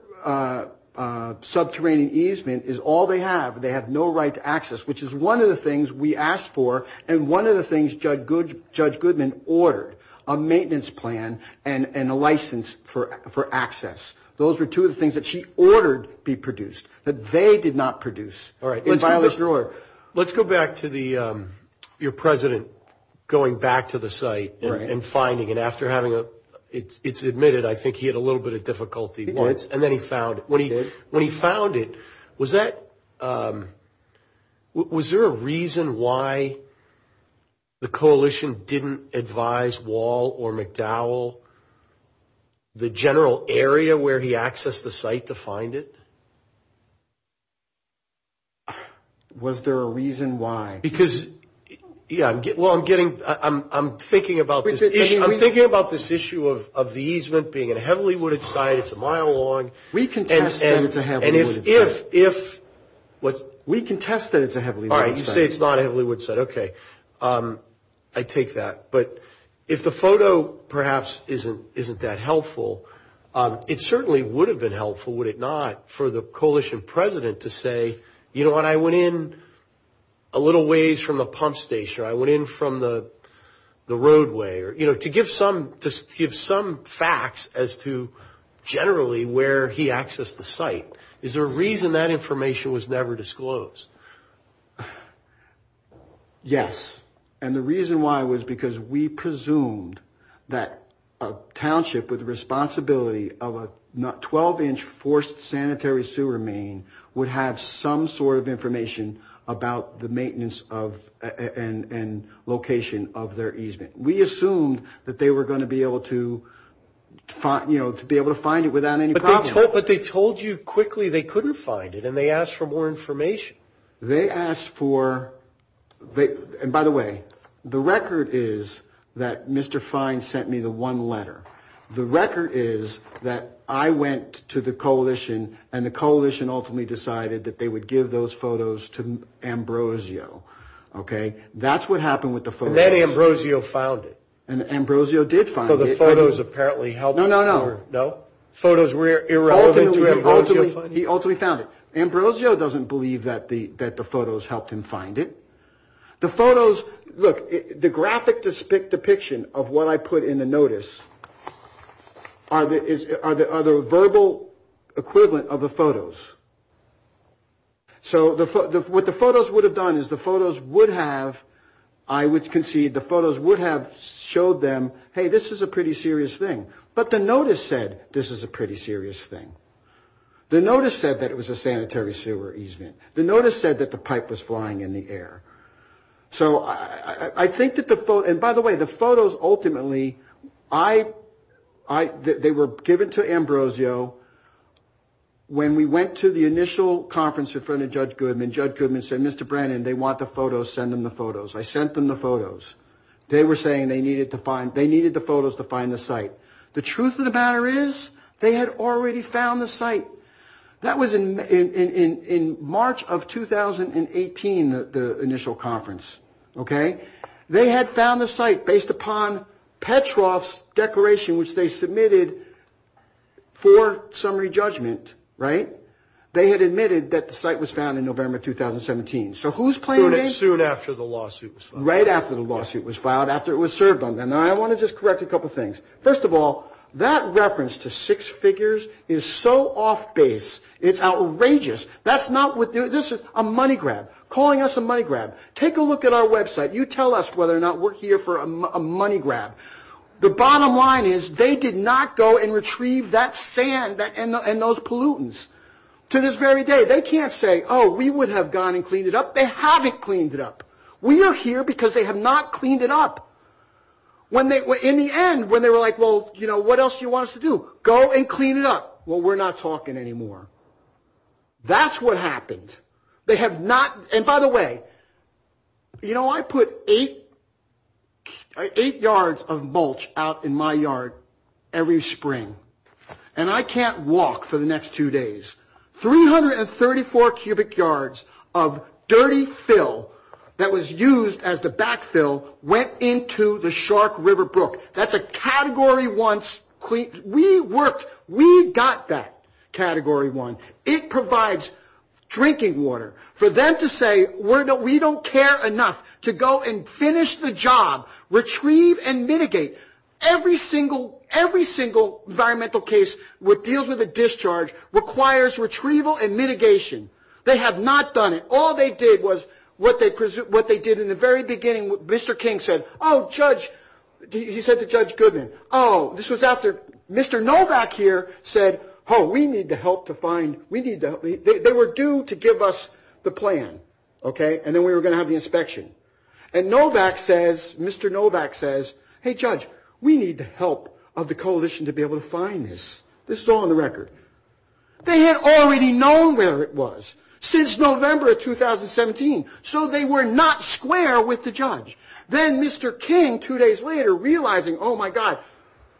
subterranean easement is all they have. They have no right to access, which is one of the things we asked for and one of the things Judge Goodman ordered, a maintenance plan and a license for access. Those were two of the things that she ordered be produced, but they did not produce in violation of the order. Let's go back to your president going back to the site and finding it. After having it admitted, I think he had a little bit of difficulty once, and then he found it. Was there a reason why the coalition didn't advise Wall or McDowell the general area where he accessed the site to find it? Was there a reason why? Because, yeah, well, I'm thinking about this issue of the easement being a heavily wooded site. It's a mile long. We contest that it's a heavily wooded site. All right. You say it's not a heavily wooded site. Okay. I take that. But if the photo perhaps isn't that helpful, it certainly would have been helpful, would it not, for the coalition president to say, you know what, I went in a little ways from the pump station. I went in from the roadway. You know, to give some facts as to generally where he accessed the site, is there a reason that information was never disclosed? Yes. And the reason why was because we presumed that a township with the responsibility of a 12-inch forced sanitary sewer main would have some sort of information about the maintenance and location of their easement. We assumed that they were going to be able to find it without any problem. But they told you quickly they couldn't find it, and they asked for more information. They asked for – and by the way, the record is that Mr. Fine sent me the one letter. And the coalition ultimately decided that they would give those photos to Ambrosio. Okay. That's what happened with the photos. And then Ambrosio found it. And Ambrosio did find it. Well, the photos apparently helped him. No, no, no. No? Photos irrelevant to Ambrosio. He ultimately found it. Ambrosio doesn't believe that the photos helped him find it. The photos – look, the graphic depiction of what I put in the notice are the verbal equivalent of the photos. So what the photos would have done is the photos would have – I would concede the photos would have showed them, hey, this is a pretty serious thing. But the notice said this is a pretty serious thing. The notice said that it was a sanitary sewer easement. The notice said that the pipe was flying in the air. So I think that the – and by the way, the photos ultimately – they were given to Ambrosio. When we went to the initial conference in front of Judge Goodman, Judge Goodman said, Mr. Brannon, they want the photos. Send them the photos. I sent them the photos. They were saying they needed the photos to find the site. The truth of the matter is they had already found the site. That was in March of 2018, the initial conference. Okay? They had found the site based upon Petroff's declaration which they submitted for summary judgment. Right? They had admitted that the site was found in November 2017. So who's claiming – Soon after the lawsuit was filed. Right after the lawsuit was filed, after it was served on them. Now, I want to just correct a couple things. First of all, that reference to six figures is so off base. It's outrageous. That's not what – this is a money grab, calling us a money grab. Take a look at our website. You tell us whether or not we're here for a money grab. The bottom line is they did not go and retrieve that sand and those pollutants to this very day. They can't say, oh, we would have gone and cleaned it up. They haven't cleaned it up. We are here because they have not cleaned it up. In the end, when they were like, well, you know, what else do you want us to do? Go and clean it up. Well, we're not talking anymore. That's what happened. They have not – and by the way, you know, I put eight yards of mulch out in my yard every spring, and I can't walk for the next two days. 334 cubic yards of dirty fill that was used as the backfill went into the Shark River Brook. That's a Category 1 – we worked – we got that Category 1. It provides drinking water. For them to say we don't care enough to go and finish the job, retrieve and mitigate, every single environmental case that deals with a discharge requires retrieval and mitigation. They have not done it. All they did was what they did in the very beginning. Mr. King said, oh, Judge – he said to Judge Goodman, oh, this was after – Mr. Novak here said, oh, we need to help to find – they were due to give us the plan, okay, and then we were going to have the inspection. And Novak says – Mr. Novak says, hey, Judge, we need the help of the coalition to be able to find this. This is all on the record. They had already known where it was since November of 2017, so they were not square with the judge. Then Mr. King, two days later, realizing, oh, my God,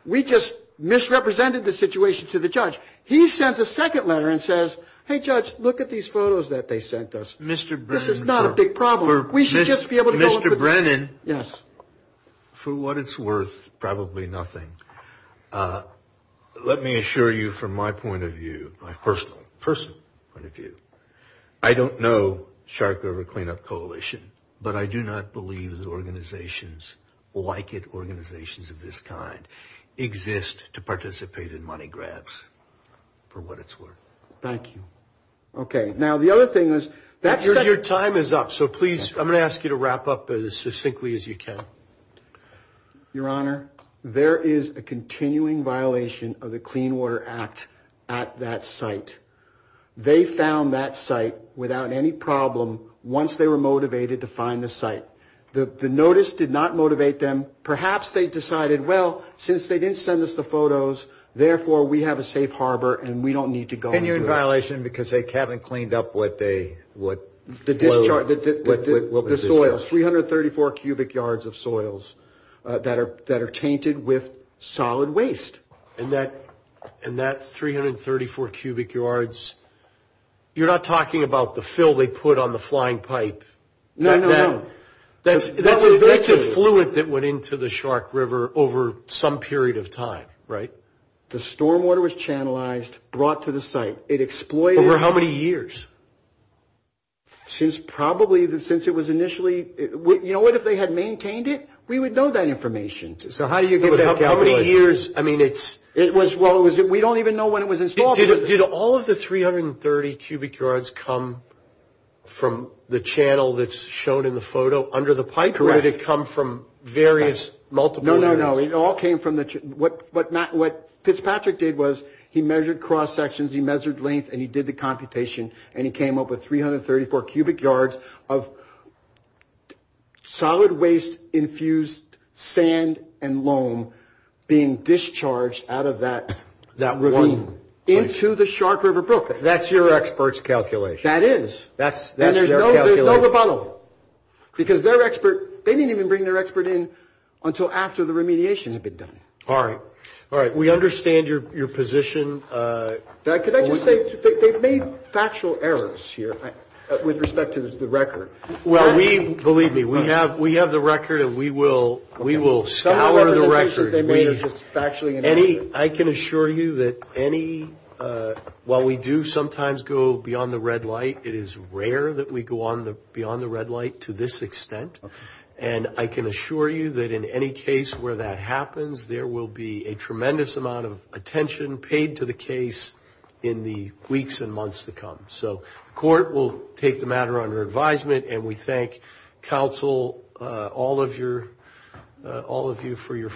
we just misrepresented the situation to the judge, he sent a second letter and says, hey, Judge, look at these photos that they sent us. This is not a big problem. Mr. Brennan, for what it's worth, probably nothing. Let me assure you from my point of view, my personal point of view, I don't know Shark River Cleanup Coalition, but I do not believe organizations like it, organizations of this kind, exist to participate in money grabs, for what it's worth. Thank you. Okay. Now, the other thing is – Your time is up, so please, I'm going to ask you to wrap up as succinctly as you can. Your Honor, there is a continuing violation of the Clean Water Act at that site. They found that site without any problem once they were motivated to find the site. The notice did not motivate them. Perhaps they decided, well, since they didn't send us the photos, therefore we have a safe harbor and we don't need to go into it. Well, I assume because they haven't cleaned up what they – The discharge – What was the discharge? The soils, 334 cubic yards of soils that are tainted with solid waste. And that 334 cubic yards, you're not talking about the fill they put on the flying pipe. No, no. That's the fluid that went into the Shark River over some period of time, right? The stormwater was channelized, brought to the site. It exploited – Over how many years? Since probably – since it was initially – you know what? If they had maintained it, we would know that information. So how do you get that – How many years? I mean, it was – well, we don't even know when it was installed. Did all of the 330 cubic yards come from the channel that's shown in the photo under the pipe? Correct. Or did it come from various multiple areas? No, no, no. It all came from the – what Fitzpatrick did was he measured cross-sections, he measured length, and he did the computation, and he came up with 334 cubic yards of solid waste-infused sand and loam being discharged out of that river into the Shark River brook. That's your expert's calculation. That is. That's their calculation. And there's no rebuttal. Because their expert – they didn't even bring their expert in until after the remediation had been done. All right. All right. We understand your position. Can I just say they've made factual errors here with respect to the record. Well, we – believe me, we have the record, and we will – we will – Some of the cases they made are just factually inaccurate. Any – I can assure you that any – while we do sometimes go beyond the red light, it is rare that we go on the – beyond the red light to this extent. And I can assure you that in any case where that happens, there will be a tremendous amount of attention paid to the case in the weeks and months to come. So the court will take the matter under advisement, and we thank counsel, all of your – all of you for your feedback.